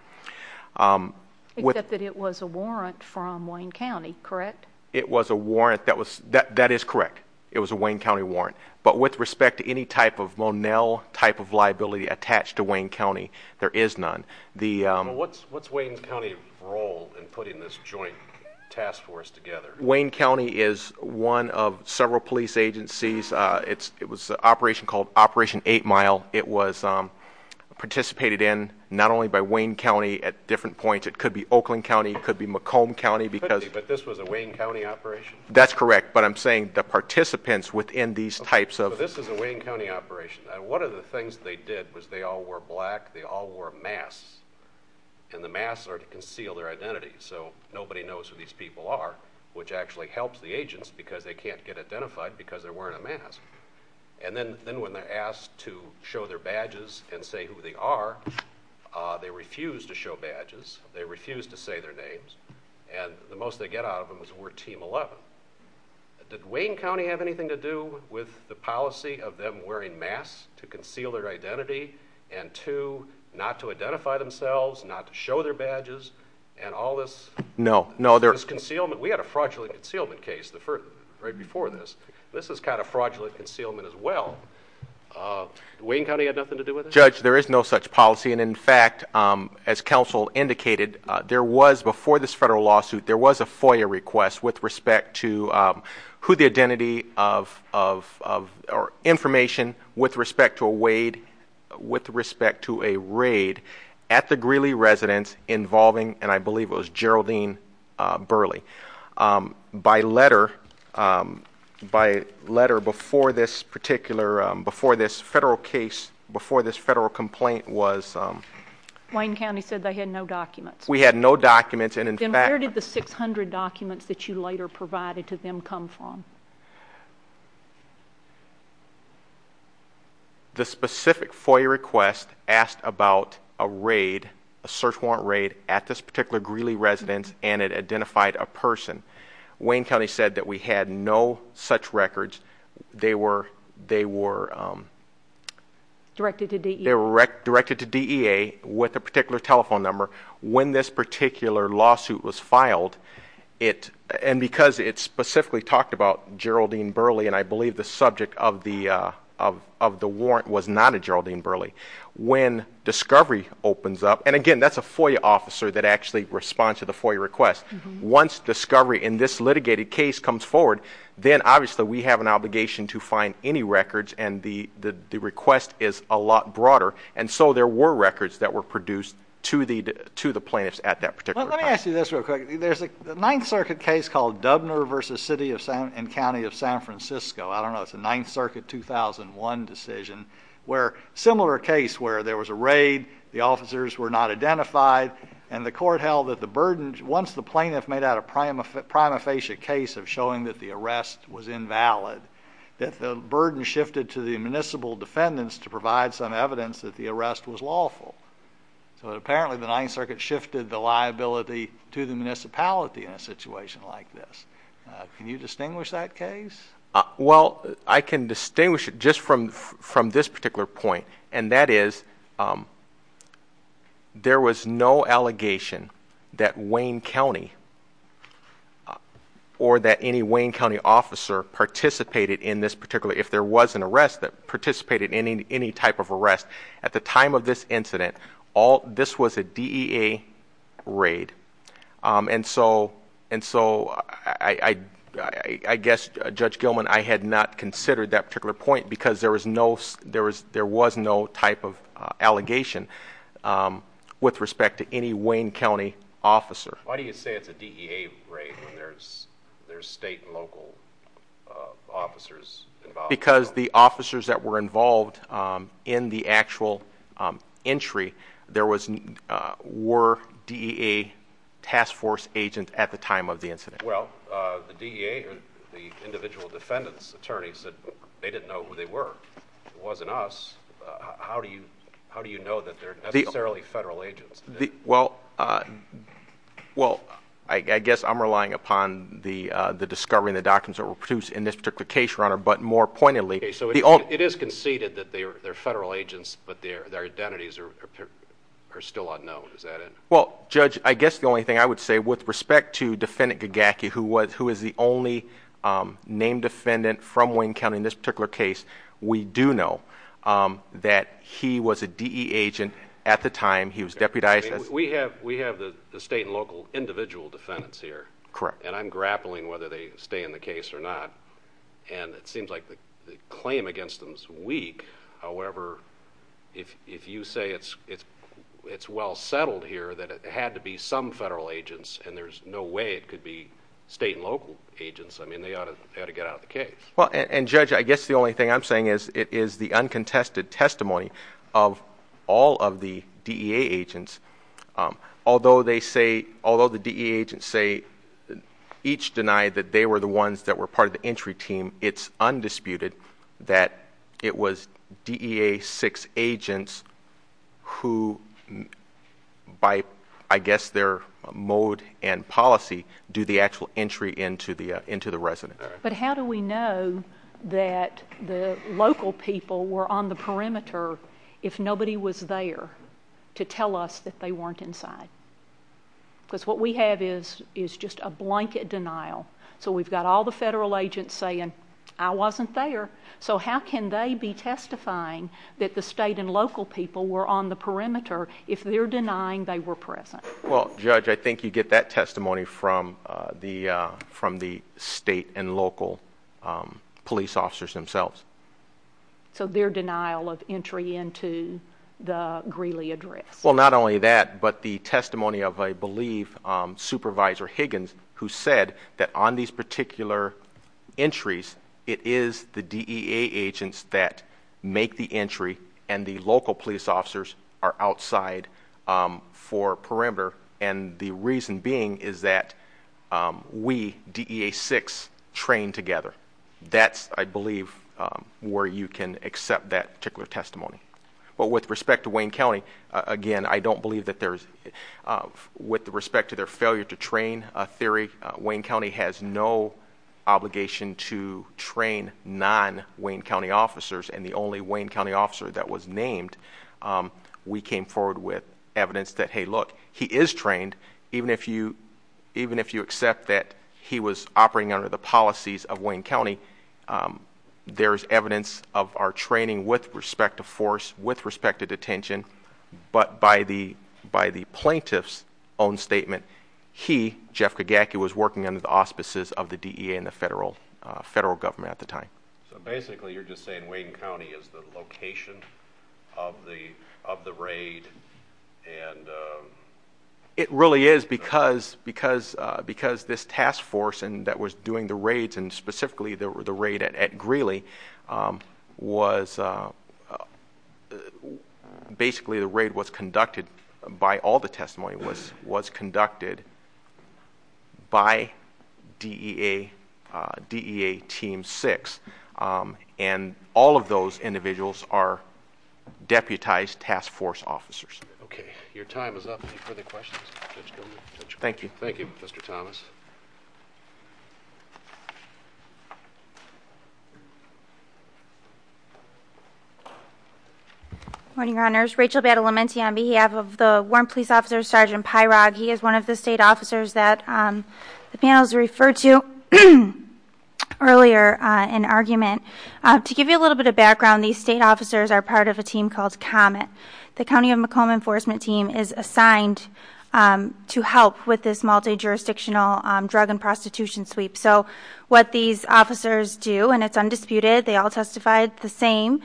Except that it was a warrant from Wayne County, correct? It was a warrant. That is correct. It was a Wayne County warrant. But with respect to any type of Monell type of liability attached to Wayne County, there is none. What's Wayne County's role in putting this joint task force together? Wayne County is one of several police agencies. It was an operation called Operation 8 Mile. It was participated in not only by Wayne County at different points. It could be Oakland County. It could be Macomb County. But this was a Wayne County operation? That's correct. But I'm saying the participants within these types of – So this is a Wayne County operation. One of the things they did was they all wore black, they all wore masks, and the masks are to conceal their identity, so nobody knows who these people are, which actually helps the agents because they can't get identified because they're wearing a mask. And then when they're asked to show their badges and say who they are, they refuse to show badges. They refuse to say their names. And the most they get out of them is we're Team 11. Did Wayne County have anything to do with the policy of them wearing masks to conceal their identity? And two, not to identify themselves, not to show their badges, and all this concealment. We had a fraudulent concealment case right before this. This was kind of fraudulent concealment as well. Did Wayne County have nothing to do with it? Judge, there is no such policy. And, in fact, as counsel indicated, there was, before this federal lawsuit, there was a FOIA request with respect to who the identity of or information with respect to a raid at the Greeley residence involving, and I believe it was Geraldine Burley. By letter, by letter before this particular, before this federal case, before this federal complaint was... Wayne County said they had no documents. We had no documents. And, in fact... Then where did the 600 documents that you later provided to them come from? The specific FOIA request asked about a raid, a search warrant raid at this particular Greeley residence, and it identified a person. Wayne County said that we had no such records. They were... Directed to DEA. They were directed to DEA with a particular telephone number. When this particular lawsuit was filed, and because it specifically talked about Geraldine Burley, and I believe the subject of the warrant was not a Geraldine Burley, when discovery opens up... And, again, that's a FOIA officer that actually responds to the FOIA request. Once discovery in this litigated case comes forward, then obviously we have an obligation to find any records, and the request is a lot broader. And so there were records that were produced to the plaintiffs at that particular time. Let me ask you this real quick. There's a Ninth Circuit case called Dubner v. City and County of San Francisco. I don't know. It's a Ninth Circuit 2001 decision, where a similar case where there was a raid, the officers were not identified, and the court held that the burden, once the plaintiff made out a prima facie case of showing that the arrest was invalid, that the burden shifted to the municipal defendants to provide some evidence that the arrest was lawful. So apparently the Ninth Circuit shifted the liability to the municipality in a situation like this. Can you distinguish that case? Well, I can distinguish it just from this particular point, and that is there was no allegation that Wayne County or that any Wayne County officer participated in this particular, at the time of this incident, this was a DEA raid. And so I guess, Judge Gilman, I had not considered that particular point because there was no type of allegation with respect to any Wayne County officer. Why do you say it's a DEA raid when there's state and local officers involved? Because the officers that were involved in the actual entry were DEA task force agents at the time of the incident. Well, the DEA, the individual defendants' attorneys, they didn't know who they were. It wasn't us. How do you know that they're necessarily federal agents? Okay, so it is conceded that they're federal agents, but their identities are still unknown. Is that it? Well, Judge, I guess the only thing I would say, with respect to Defendant Gagaki, who is the only named defendant from Wayne County in this particular case, we do know that he was a DEA agent at the time he was deputized. We have the state and local individual defendants here. Correct. And I'm grappling whether they stay in the case or not, and it seems like the claim against them is weak. However, if you say it's well settled here that it had to be some federal agents and there's no way it could be state and local agents, I mean, they ought to get out of the case. And, Judge, I guess the only thing I'm saying is it is the uncontested testimony of all of the DEA agents. Although the DEA agents each deny that they were the ones that were part of the entry team, it's undisputed that it was DEA-6 agents who, by I guess their mode and policy, do the actual entry into the residence. But how do we know that the local people were on the perimeter if nobody was there to tell us that they weren't inside? Because what we have is just a blanket denial. So we've got all the federal agents saying, I wasn't there. So how can they be testifying that the state and local people were on the perimeter if they're denying they were present? Well, Judge, I think you get that testimony from the state and local police officers themselves. So their denial of entry into the Greeley address. Well, not only that, but the testimony of, I believe, Supervisor Higgins, who said that on these particular entries, it is the DEA agents that make the entry and the local police officers are outside for perimeter. And the reason being is that we, DEA-6, train together. That's, I believe, where you can accept that particular testimony. But with respect to Wayne County, again, I don't believe that there's, with respect to their failure to train theory, Wayne County has no obligation to train non-Wayne County officers, and the only Wayne County officer that was named, we came forward with evidence that, hey, look, he is trained, and even if you accept that he was operating under the policies of Wayne County, there's evidence of our training with respect to force, with respect to detention, but by the plaintiff's own statement, he, Jeff Kagaki, was working under the auspices of the DEA and the federal government at the time. So basically you're just saying Wayne County is the location of the raid and... It really is because this task force that was doing the raids and specifically the raid at Greeley was, basically the raid was conducted by all the testimony, was conducted by DEA Team 6, and all of those individuals are deputized task force officers. Okay, your time is up. Any questions? Thank you. Thank you, Mr. Thomas. Good morning, Your Honors. Rachel Badalamenti on behalf of the Warren Police Officer Sergeant Pyrog. He is one of the state officers that the panel has referred to earlier in argument. To give you a little bit of background, these state officers are part of a team called Comet. The County of Macomb Enforcement Team is assigned to help with this multi-jurisdictional drug and prostitution sweep. So what these officers do, and it's undisputed, they all testified the same,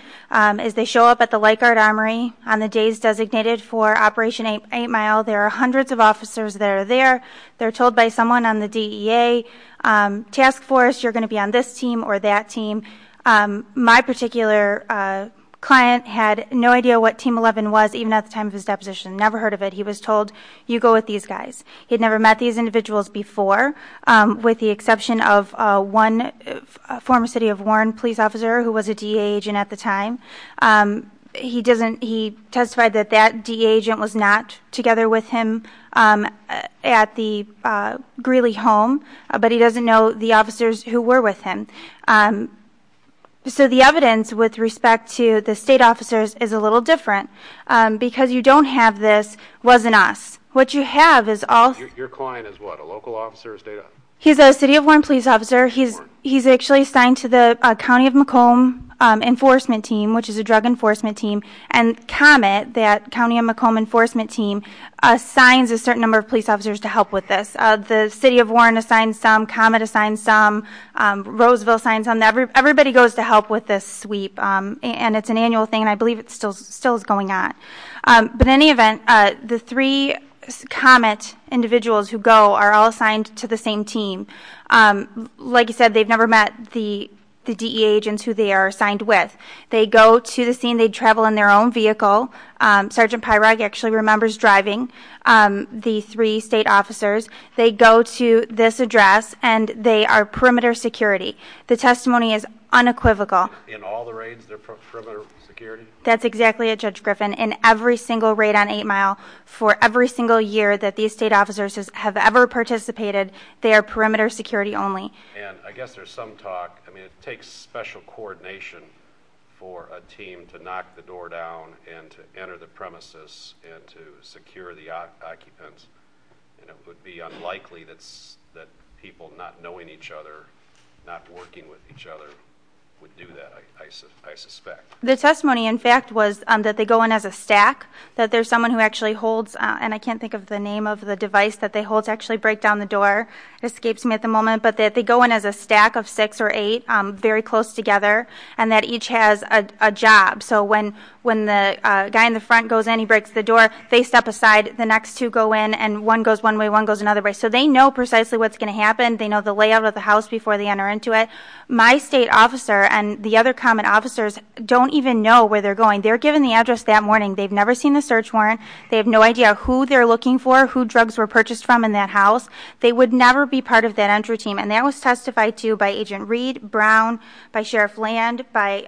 is they show up at the Light Guard Armory on the days designated for Operation 8 Mile. There are hundreds of officers that are there. They're told by someone on the DEA task force, you're going to be on this team or that team. My particular client had no idea what Team 11 was, even at the time of his deposition. Never heard of it. He was told, you go with these guys. He had never met these individuals before, with the exception of one former city of Warren police officer who was a DEA agent at the time. He testified that that DEA agent was not together with him at the Greeley home, but he doesn't know the officers who were with him. So the evidence with respect to the state officers is a little different, because you don't have this, wasn't us. What you have is all- Your client is what, a local officer or state officer? He's a city of Warren police officer. He's actually assigned to the County of Macomb Enforcement Team, which is a drug enforcement team, and Comet, that County of Macomb Enforcement Team, assigns a certain number of police officers to help with this. The city of Warren assigns some, Comet assigns some, Roseville assigns some. Everybody goes to help with this sweep, and it's an annual thing, and I believe it still is going on. But in any event, the three Comet individuals who go are all assigned to the same team. Like I said, they've never met the DEA agents who they are assigned with. They go to the scene. They travel in their own vehicle. Sergeant Pyrog actually remembers driving the three state officers. They go to this address, and they are perimeter security. The testimony is unequivocal. In all the raids, they're perimeter security? That's exactly it, Judge Griffin. In every single raid on 8 Mile, for every single year that these state officers have ever participated, they are perimeter security only. And I guess there's some talk. I mean, it takes special coordination for a team to knock the door down and to enter the premises and to secure the occupants. It would be unlikely that people not knowing each other, not working with each other, would do that, I suspect. The testimony, in fact, was that they go in as a stack, that there's someone who actually holds, and I can't think of the name of the device that they hold to actually break down the door. It escapes me at the moment. But they go in as a stack of six or eight, very close together, and that each has a job. So when the guy in the front goes in, he breaks the door, they step aside, the next two go in, and one goes one way, one goes another way. So they know precisely what's going to happen. They know the layout of the house before they enter into it. My state officer and the other common officers don't even know where they're going. They're given the address that morning. They've never seen the search warrant. They have no idea who they're looking for, who drugs were purchased from in that house. They would never be part of that entry team, and that was testified to by Agent Reed, Brown, by Sheriff Land, by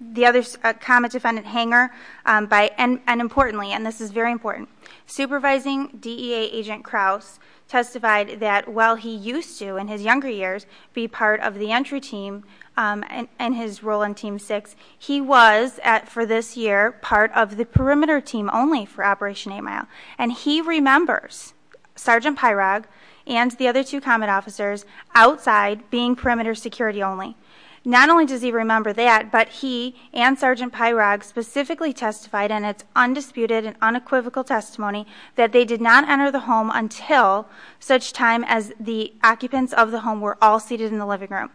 the other common defendant, Hanger, and importantly, and this is very important, Supervising DEA Agent Krause testified that while he used to, in his younger years, be part of the entry team and his role in Team 6, he was, for this year, part of the perimeter team only for Operation 8 Mile. And he remembers Sergeant Pyrog and the other two common officers outside being perimeter security only. Not only does he remember that, but he and Sergeant Pyrog specifically testified in an undisputed and unequivocal testimony that they did not enter the home until such time as the occupants of the home were all seated in the living room.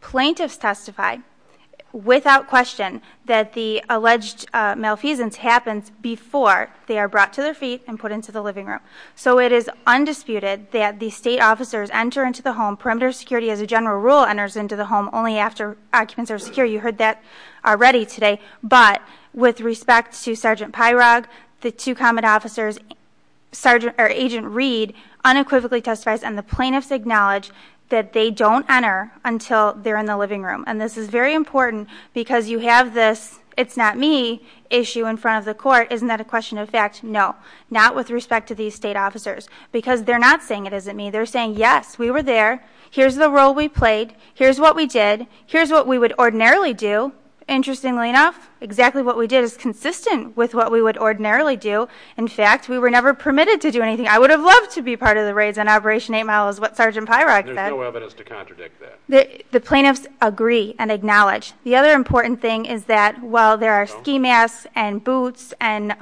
Plaintiffs testified without question that the alleged malfeasance happens before they are brought to their feet and put into the living room. So it is undisputed that the state officers enter into the home, perimeter security as a general rule, enters into the home only after occupants are secure. You heard that already today. But with respect to Sergeant Pyrog, the two common officers, Sergeant or Agent Reed, unequivocally testified and the plaintiffs acknowledged that they don't enter until they're in the living room. And this is very important because you have this it's not me issue in front of the court. Isn't that a question of fact? No, not with respect to these state officers because they're not saying it isn't me. They're saying, yes, we were there. Here's the role we played. Here's what we did. Here's what we would ordinarily do. Interestingly enough, exactly what we did is consistent with what we would ordinarily do. In fact, we were never permitted to do anything. I would have loved to be part of the raids on Operation 8 Mile is what Sergeant Pyrog said. There's no evidence to contradict that. The plaintiffs agree and acknowledge. The other important thing is that while there are ski masks and boots and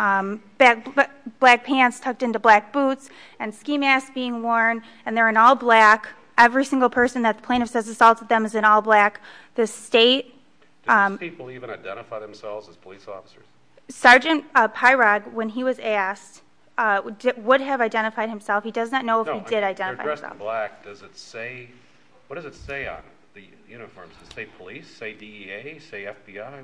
black pants tucked into black boots and ski masks being worn and they're in all black, every single person that the plaintiff says assaulted them is in all black. The state – Did these people even identify themselves as police officers? Sergeant Pyrog, when he was asked, would have identified himself. He does not know if he did identify himself. When they're dressed in black, does it say – what does it say on the uniform? Does it say police? Say DEA? Say FBI?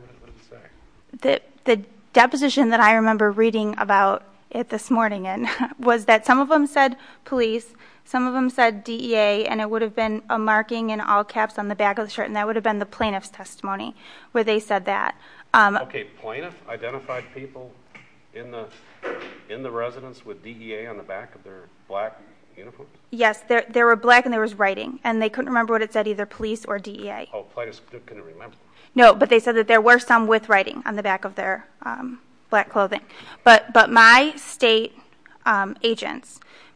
The deposition that I remember reading about it this morning was that some of them said police, some of them said DEA, and it would have been a marking in all caps on the back of the shirt, and that would have been the plaintiff's testimony where they said that. Okay. Plaintiffs identified people in the residence with DEA on the back of their black uniform? Yes. There were black and there was writing, and they couldn't remember what it said, either police or DEA. Oh, plaintiffs couldn't remember. No, but they said that there were some with writing on the back of their black clothing. But my state agent,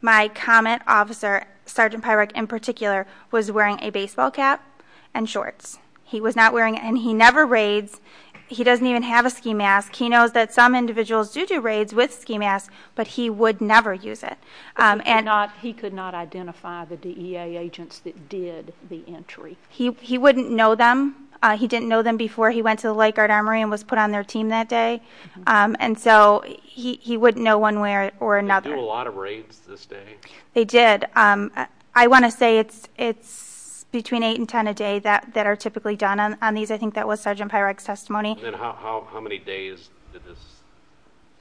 my comment officer, Sergeant Pyrog, in particular, was wearing a baseball cap and shorts. He was not wearing – and he never raids. He doesn't even have a ski mask. He knows that some individuals do do raids with ski masks, but he would never use it. But he could not identify the DEA agents that did the entry? He wouldn't know them. He didn't know them before he went to the Lake Guard Armory and was put on their team that day, and so he wouldn't know one way or another. They do a lot of raids these days. They did. I want to say it's between eight and ten a day that are typically done on these. I think that was Sergeant Pyrog's testimony. And how many days did this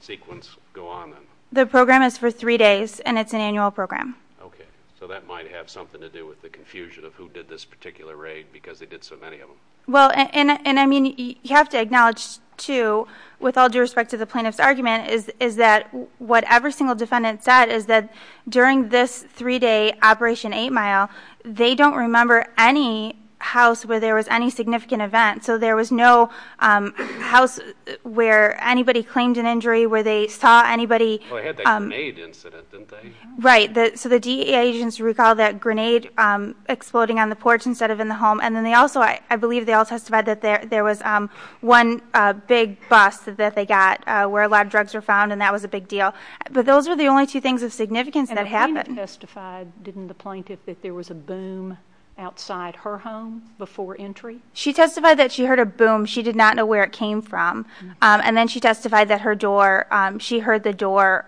sequence go on? The program is for three days, and it's an annual program. Okay. So that might have something to do with the confusion of who did this particular raid because they did so many of them. Well, and, I mean, you have to acknowledge, too, with all due respect to the plaintiff's argument, is that what every single defendant said is that during this three-day Operation 8 Mile, they don't remember any house where there was any significant event. So there was no house where anybody claimed an injury, where they saw anybody. Well, they had the grenade incident, didn't they? Right. So the DEA agents recall that grenade exploding on the porch instead of in the home. And then they also, I believe they all testified that there was one big bus that they got where a lot of drugs were found, and that was a big deal. But those are the only two things of significance that happened. And the plaintiff testified, didn't the plaintiff, that there was a boom outside her home before entry? She testified that she heard a boom. She did not know where it came from. And then she testified that her door, she heard the door,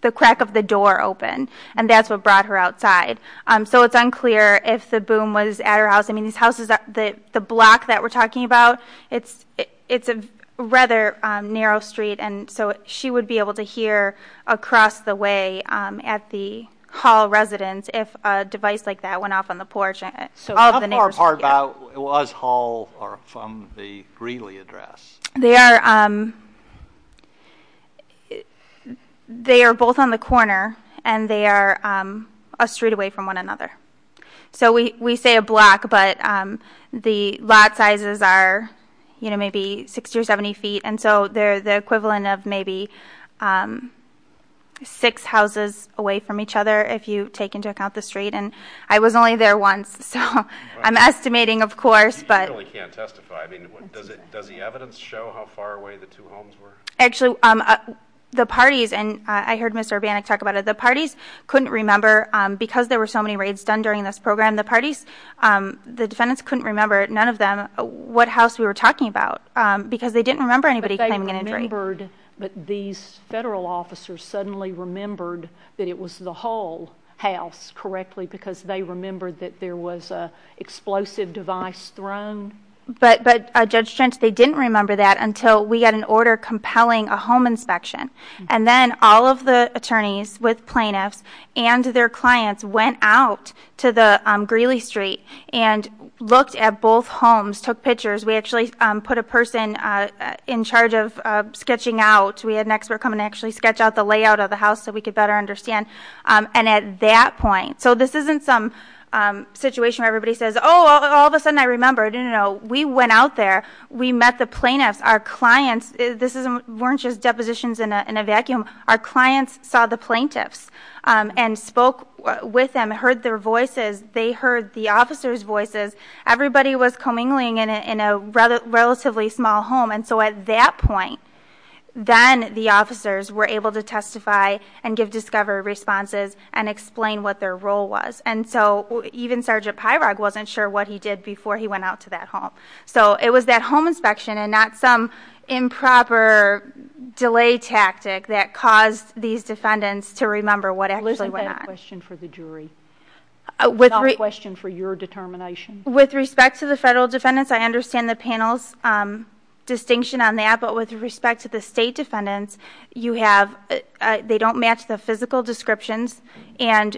the crack of the door open, and that's what brought her outside. So it's unclear if the boom was at her house. I mean, the block that we're talking about, it's a rather narrow street, and so she would be able to hear across the way at the Hall residence if a device like that went off on the porch. So how far apart was Hall from the Greeley address? They are both on the corner, and they are a street away from one another. So we say a block, but the lot sizes are, you know, maybe 60 or 70 feet, and so they're the equivalent of maybe six houses away from each other if you take into account the street. And I was only there once, so I'm estimating, of course. You really can't testify. I mean, does the evidence show how far away the two homes were? Actually, the parties, and I heard Mr. Urbanek talk about it, the parties couldn't remember because there were so many raids done during this program, the parties, the defendants couldn't remember, none of them, what house we were talking about because they didn't remember anybody having an injury. But these federal officers suddenly remembered that it was the Hall house, correctly, because they remembered that there was an explosive device thrown. But Judge Schentz, they didn't remember that until we had an order compelling a home inspection. And then all of the attorneys with plaintiffs and their clients went out to the Greeley street and looked at both homes, took pictures. We actually put a person in charge of sketching out. We had an expert come and actually sketch out the layout of the house so we could better understand. And at that point, so this isn't some situation where everybody says, oh, all of a sudden I remembered. No, no, no. We went out there. We met the plaintiffs. Our clients, this weren't just depositions in a vacuum. Our clients saw the plaintiffs and spoke with them, heard their voices. They heard the officers' voices. Everybody was commingling in a relatively small home. And so at that point, then the officers were able to testify and give discovery responses and explain what their role was. And so even Sergeant Pyrog wasn't sure what he did before he went out to that home. So it was that home inspection and not some improper delay tactic that caused these defendants to remember what actually went on. Liz, I have a question for the jury, not a question for your determination. With respect to the federal defendants, I understand the panel's distinction on that. But with respect to the state defendants, they don't match the physical descriptions. And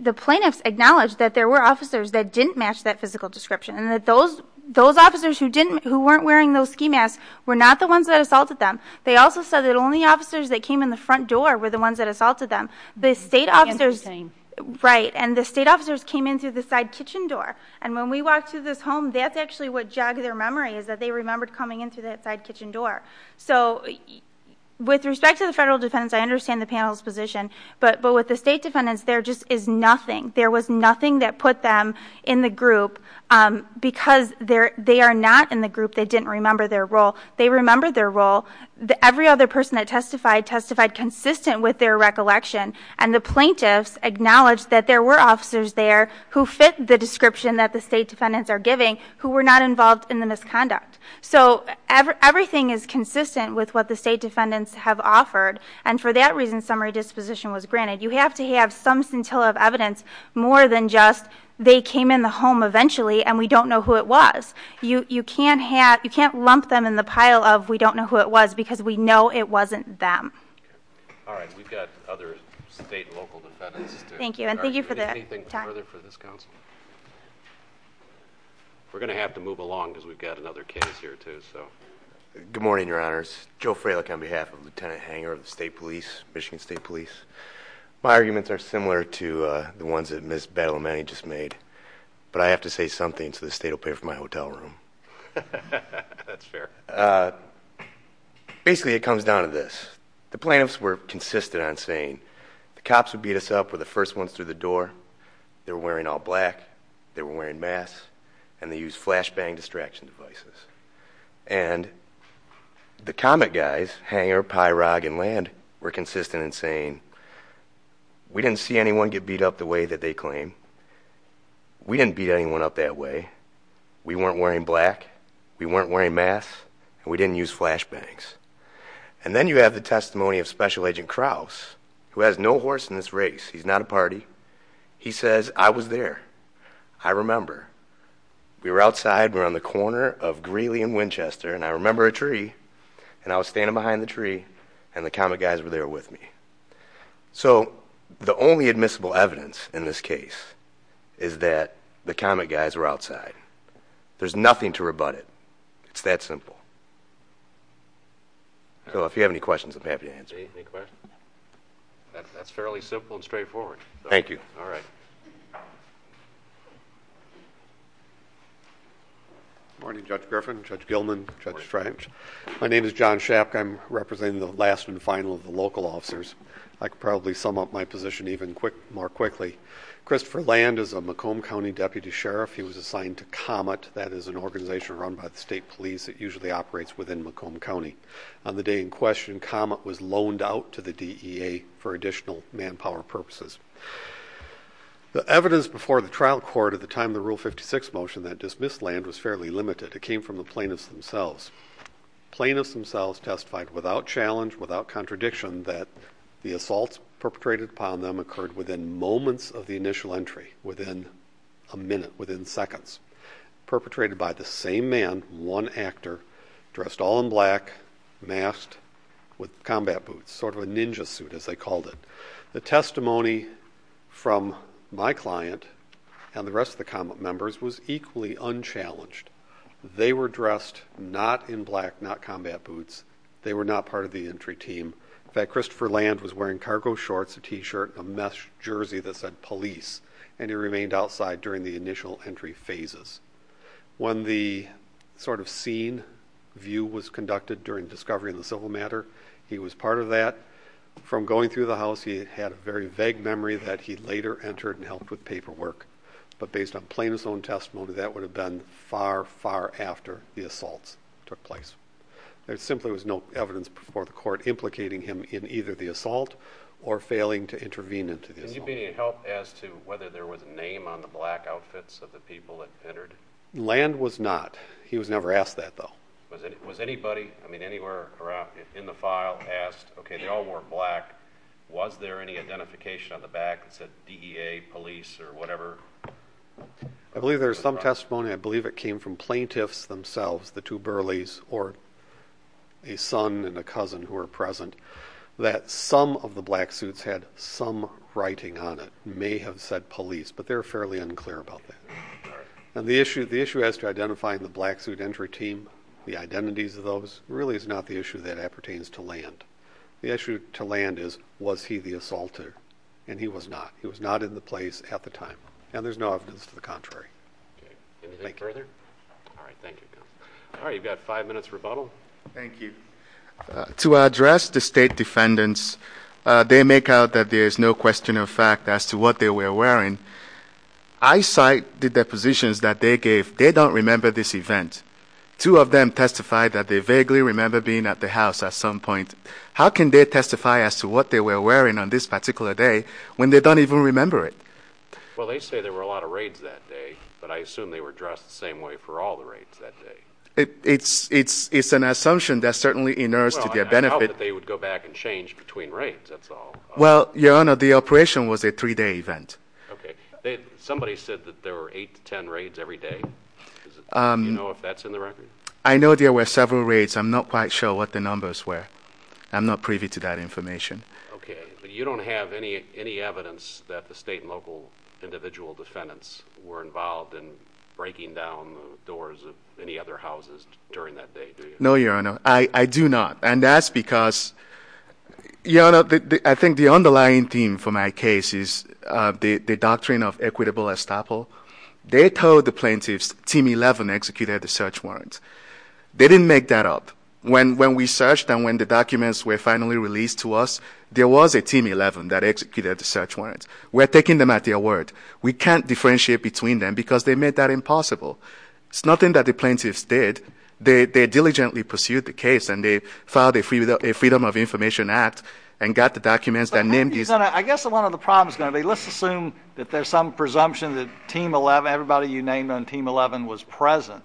the plaintiffs acknowledged that there were officers that didn't match that physical description and that those officers who weren't wearing those ski masks were not the ones that assaulted them. They also said that only officers that came in the front door were the ones that assaulted them. Interesting. Right, and the state officers came in through the side kitchen door. And when we walked through this home, that's actually what jogged their memory, is that they remembered coming in through that side kitchen door. So with respect to the federal defendants, I understand the panel's position. But with the state defendants, there just is nothing. There was nothing that put them in the group because they are not in the group. They didn't remember their role. They remembered their role. Every other person that testified testified consistent with their recollection. And the plaintiffs acknowledged that there were officers there who fit the description that the state defendants are giving who were not involved in the misconduct. So everything is consistent with what the state defendants have offered. And for that reason, summary disposition was granted. You have to have some scintilla of evidence more than just they came in the home eventually and we don't know who it was. You can't lump them in the pile of we don't know who it was because we know it wasn't them. All right. We've got other state and local defendants. Thank you. And thank you for that. Do you have anything further for this council? We're going to have to move along because we've got another case here too. Good morning, Your Honors. Joe Fralick on behalf of Lieutenant Hanger of the state police, Michigan State Police. My arguments are similar to the ones that Ms. Bellamy just made, but I have to say something so the state will pay for my hotel room. That's fair. Basically it comes down to this. The plaintiffs were consistent on saying the cops would beat us up were the first ones through the door. They were wearing all black. They were wearing masks and they used flashbang distraction devices. And the comet guys, Hanger, Pyrog, and Land were consistent in saying we didn't see anyone get beat up the way that they claim. We didn't beat anyone up that way. We weren't wearing black. We weren't wearing masks, and we didn't use flashbangs. And then you have the testimony of Special Agent Krause, who has no horse in this race. He's not a party. He says, I was there. I remember. We were outside. We were on the corner of Greeley and Winchester, and I remember a tree. And I was standing behind the tree, and the comet guys were there with me. So the only admissible evidence in this case is that the comet guys were outside. There's nothing to rebut it. It's that simple. So if you have any questions, I'm happy to answer. Any questions? That's fairly simple and straightforward. Thank you. All right. Good morning, Judge Griffin, Judge Gilman, Judge French. My name is John Schapke. I'm representing the last and final of the local officers. I could probably sum up my position even more quickly. Christopher Land is a Macomb County Deputy Sheriff. He was assigned to Comet. That is an organization run by the state police that usually operates within Macomb County. On the day in question, Comet was loaned out to the DEA for additional manpower purposes. The evidence before the trial court at the time of the Rule 56 motion that dismissed Land was fairly limited. It came from the plaintiffs themselves. Plaintiffs themselves testified without challenge, without contradiction, that the assaults perpetrated upon them occurred within moments of the initial entry, within a minute, within seconds. Perpetrated by the same man, one actor, dressed all in black, masked with combat boots, sort of a ninja suit, as they called it. The testimony from my client and the rest of the Comet members was equally unchallenged. They were dressed not in black, not combat boots. They were not part of the entry team. In fact, Christopher Land was wearing cargo shorts, a T-shirt, a mesh jersey that said police, and he remained outside during the initial entry phases. When the sort of scene view was conducted during the discovery of the civil matter, he was part of that. From going through the house, he had a very vague memory that he later entered and helped with paperwork. But based on plaintiff's own testimony, that would have been far, far after the assaults took place. There simply was no evidence before the court implicating him in either the assault or failing to intervene. Can you be of help as to whether there was a name on the black outfits of the people that entered? Land was not. He was never asked that, though. Was anybody, I mean, anywhere in the file, asked, okay, they all wore black. Was there any identification on the back that said DEA, police, or whatever? I believe there is some testimony. I believe it came from plaintiffs themselves, the two Burleys, or a son and a cousin who were present, that some of the black suits had some writing on it. It may have said police, but they're fairly unclear about that. The issue as to identifying the black suit entry team, the identities of those, really is not the issue that pertains to Land. The issue to Land is, was he the assaulter? And he was not. He was not in the place at the time. And there's no evidence to the contrary. Anything further? All right, thank you. All right, you've got five minutes rebuttal. Thank you. To address the state defendants, they make out that there is no question of fact as to what they were wearing. I cite the depositions that they gave. They don't remember this event. Two of them testified that they vaguely remember being at the house at some point. How can they testify as to what they were wearing on this particular day when they don't even remember it? Well, they say there were a lot of raids that day, but I assume they were dressed the same way for all the raids that day. It's an assumption that certainly inerts to their benefit. Well, I doubt that they would go back and change between raids, that's all. Well, Your Honor, the operation was a three-day event. Somebody said that there were eight to ten raids every day. Do you know if that's in the record? I know there were several raids. I'm not quite sure what the numbers were. I'm not privy to that information. Okay, but you don't have any evidence that the state and local individual defendants were involved in breaking down the doors of any other houses during that day, do you? No, Your Honor, I do not. And that's because, Your Honor, I think the underlying theme for my case is the doctrine of equitable estoppel. They told the plaintiffs Team 11 executed the search warrant. They didn't make that up. When we searched and when the documents were finally released to us, there was a Team 11 that executed the search warrant. We're taking them at their word. We can't differentiate between them because they made that impossible. It's nothing that the plaintiffs did. They diligently pursued the case and they filed a Freedom of Information Act and got the documents and named it. Your Honor, I guess one of the problems is going to be let's assume that there's some presumption that Team 11, everybody you named on Team 11 was present,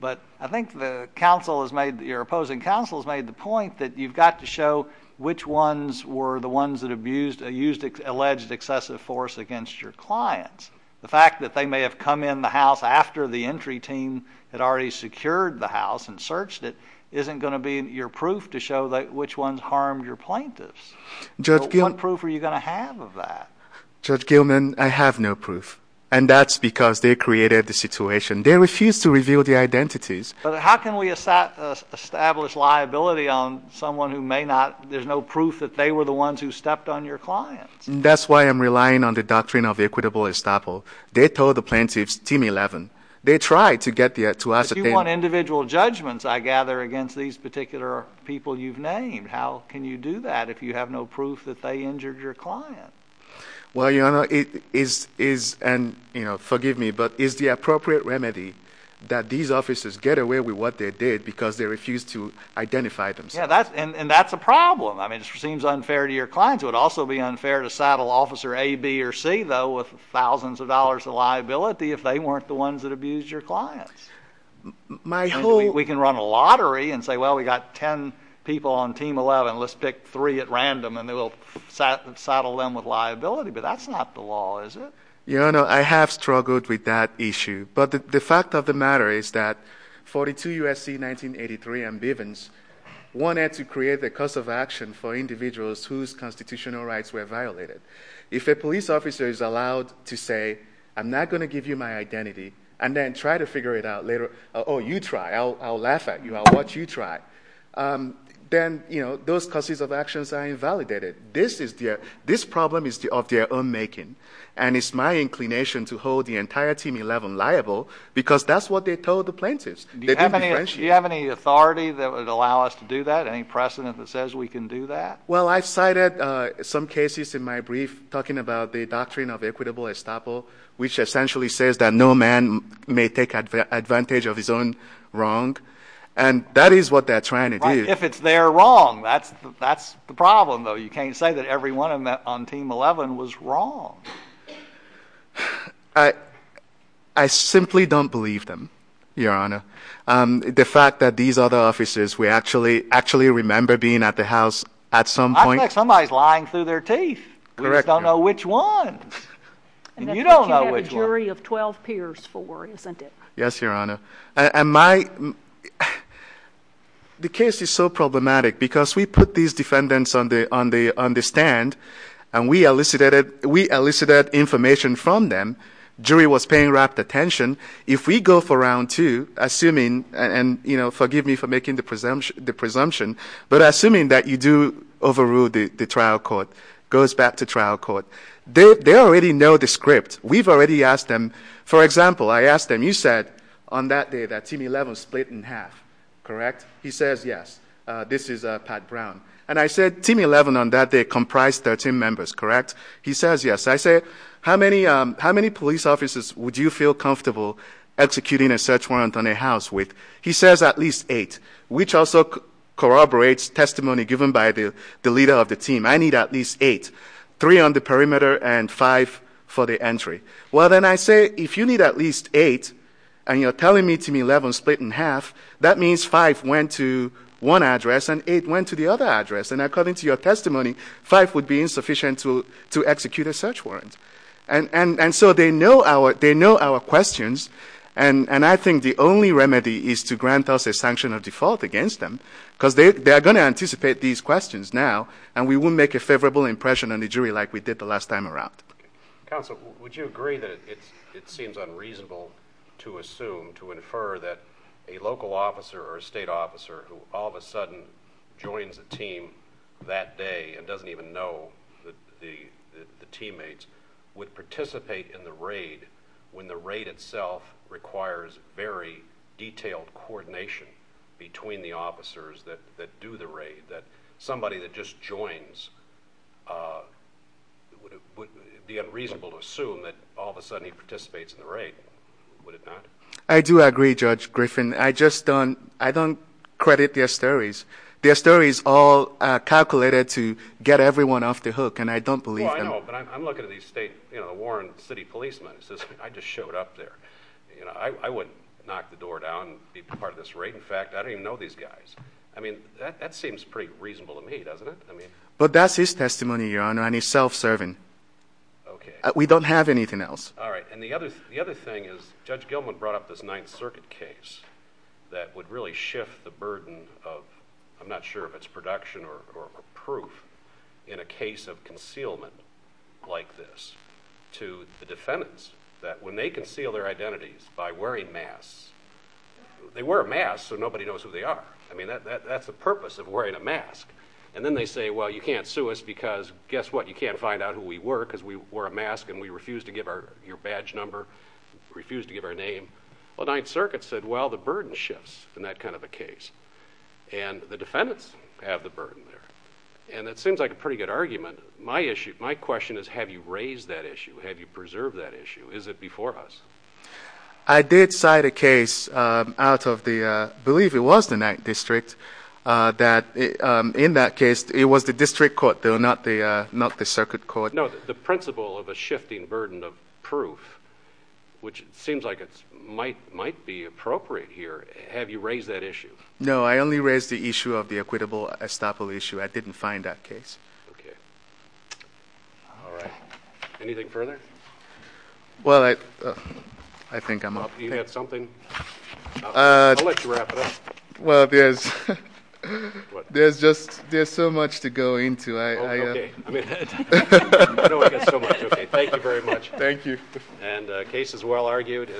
but I think the opposing counsel has made the point that you've got to show which ones were the ones that abused or used alleged excessive force against your clients. The fact that they may have come in the house after the entry team had already secured the house and searched it isn't going to be your proof to show which ones harmed your plaintiffs. What proof are you going to have of that? Judge Gilman, I have no proof, and that's because they created the situation. They refused to reveal the identities. How can we establish liability on someone who may not? There's no proof that they were the ones who stepped on your clients. That's why I'm relying on the doctrine of equitable estoppel. They told the plaintiffs, Team 11, they tried to get to us. If you want individual judgments, I gather, against these particular people you've named, how can you do that if you have no proof that they injured your client? Well, Your Honor, forgive me, but is the appropriate remedy that these officers get away with what they did because they refused to identify themselves? Yeah, and that's a problem. It seems unfair to your clients. It would also be unfair to saddle Officer A, B, or C, though, with thousands of dollars of liability if they weren't the ones that abused your clients. We can run a lottery and say, well, we've got ten people on Team 11. Let's pick three at random, and we'll saddle them with liability, but that's not the law, is it? Your Honor, I have struggled with that issue, but the fact of the matter is that 42 U.S.C. 1983 and Bivens wanted to create the cause of action for individuals whose constitutional rights were violated. If a police officer is allowed to say, I'm not going to give you my identity, and then try to figure it out later, or you try, I'll laugh at you, I'll watch you try, then those causes of actions are invalidated. This problem is of their own making, and it's my inclination to hold the entire Team 11 liable because that's what they told the plaintiffs. Do you have any authority that would allow us to do that, any precedent that says we can do that? Well, I cited some cases in my brief talking about the doctrine of equitable estoppel, which essentially says that no man may take advantage of his own wrong, and that is what they're trying to do. If it's their wrong, that's the problem, though. You can't say that everyone on Team 11 was wrong. I simply don't believe them, Your Honor. The fact that these other officers, we actually remember being at the house at some point. I bet somebody's lying through their teeth. We don't know which one, and you don't know which one. And that's what you had a jury of 12 peers for, isn't it? Yes, Your Honor. The case is so problematic because we put these defendants on the stand, and we elicited information from them. Jury was paying rapt attention. If we go for round two, assuming, and forgive me for making the presumption, but assuming that you do overrule the trial court, goes back to trial court, they already know the script. We've already asked them. For example, I asked them, you said on that day that Team 11 split in half, correct? He says, yes. This is Pat Brown. And I said Team 11 on that day comprised 13 members, correct? He says, yes. I said, how many police officers would you feel comfortable executing a search warrant on a house with? He says at least eight, which also corroborates testimony given by the leader of the team. I need at least eight, three on the perimeter and five for the entry. Well, then I say, if you need at least eight, and you're telling me Team 11 split in half, that means five went to one address and eight went to the other address. And according to your testimony, five would be insufficient to execute a search warrant. And so they know our questions, and I think the only remedy is to grant us a sanction of default against them, because they are going to anticipate these questions now, and we will make a favorable impression on the jury like we did the last time around. Counsel, would you agree that it seems unreasonable to assume, to infer, that a local officer or a state officer who all of a sudden joins a team that day and doesn't even know the teammates would participate in the raid when the raid itself requires very detailed coordination between the officers that do the raid, that somebody that just joins would be unreasonable to assume that all of a sudden he participates in the raid. Would it not? I do agree, Judge Griffin. I just don't credit their stories. Their story is all calculated to get everyone off the hook, and I don't believe them. Oh, I know, but I'm looking at these state, you know, Warren City policemen. I just showed up there. I wouldn't knock the door down and be part of this raid. In fact, I don't even know these guys. I mean, that seems pretty reasonable to me, doesn't it? But that's his testimony, Your Honor, and he's self-serving. Okay. We don't have anything else. All right. And the other thing is Judge Gilman brought up this Ninth Circuit case that would really shift the burden of, I'm not sure if it's production or proof, in a case of concealment like this to the defendants, that when they conceal their identities by wearing masks, they wear masks so nobody knows who they are. I mean, that's the purpose of wearing a mask. And then they say, well, you can't sue us because, guess what, you can't find out who we were because we wore a mask and we refused to give your badge number, refused to give our name. Well, Ninth Circuit said, well, the burden shifts in that kind of a case, and the defendants have the burden there. And it seems like a pretty good argument. My question is, have you raised that issue? Have you preserved that issue? Is it before us? I did cite a case out of the, I believe it was the Ninth District, that in that case it was the district court, not the circuit court. No, the principle of a shifting burden of proof, which seems like it might be appropriate here. Have you raised that issue? No, I only raised the issue of the equitable estoppel issue. I didn't find that case. Okay. All right. Anything further? Well, I think I'm off. You have something? I'll let you wrap it up. Well, there's just so much to go into. Okay. I know I got so much. Okay, thank you very much. Thank you. And the case is well argued.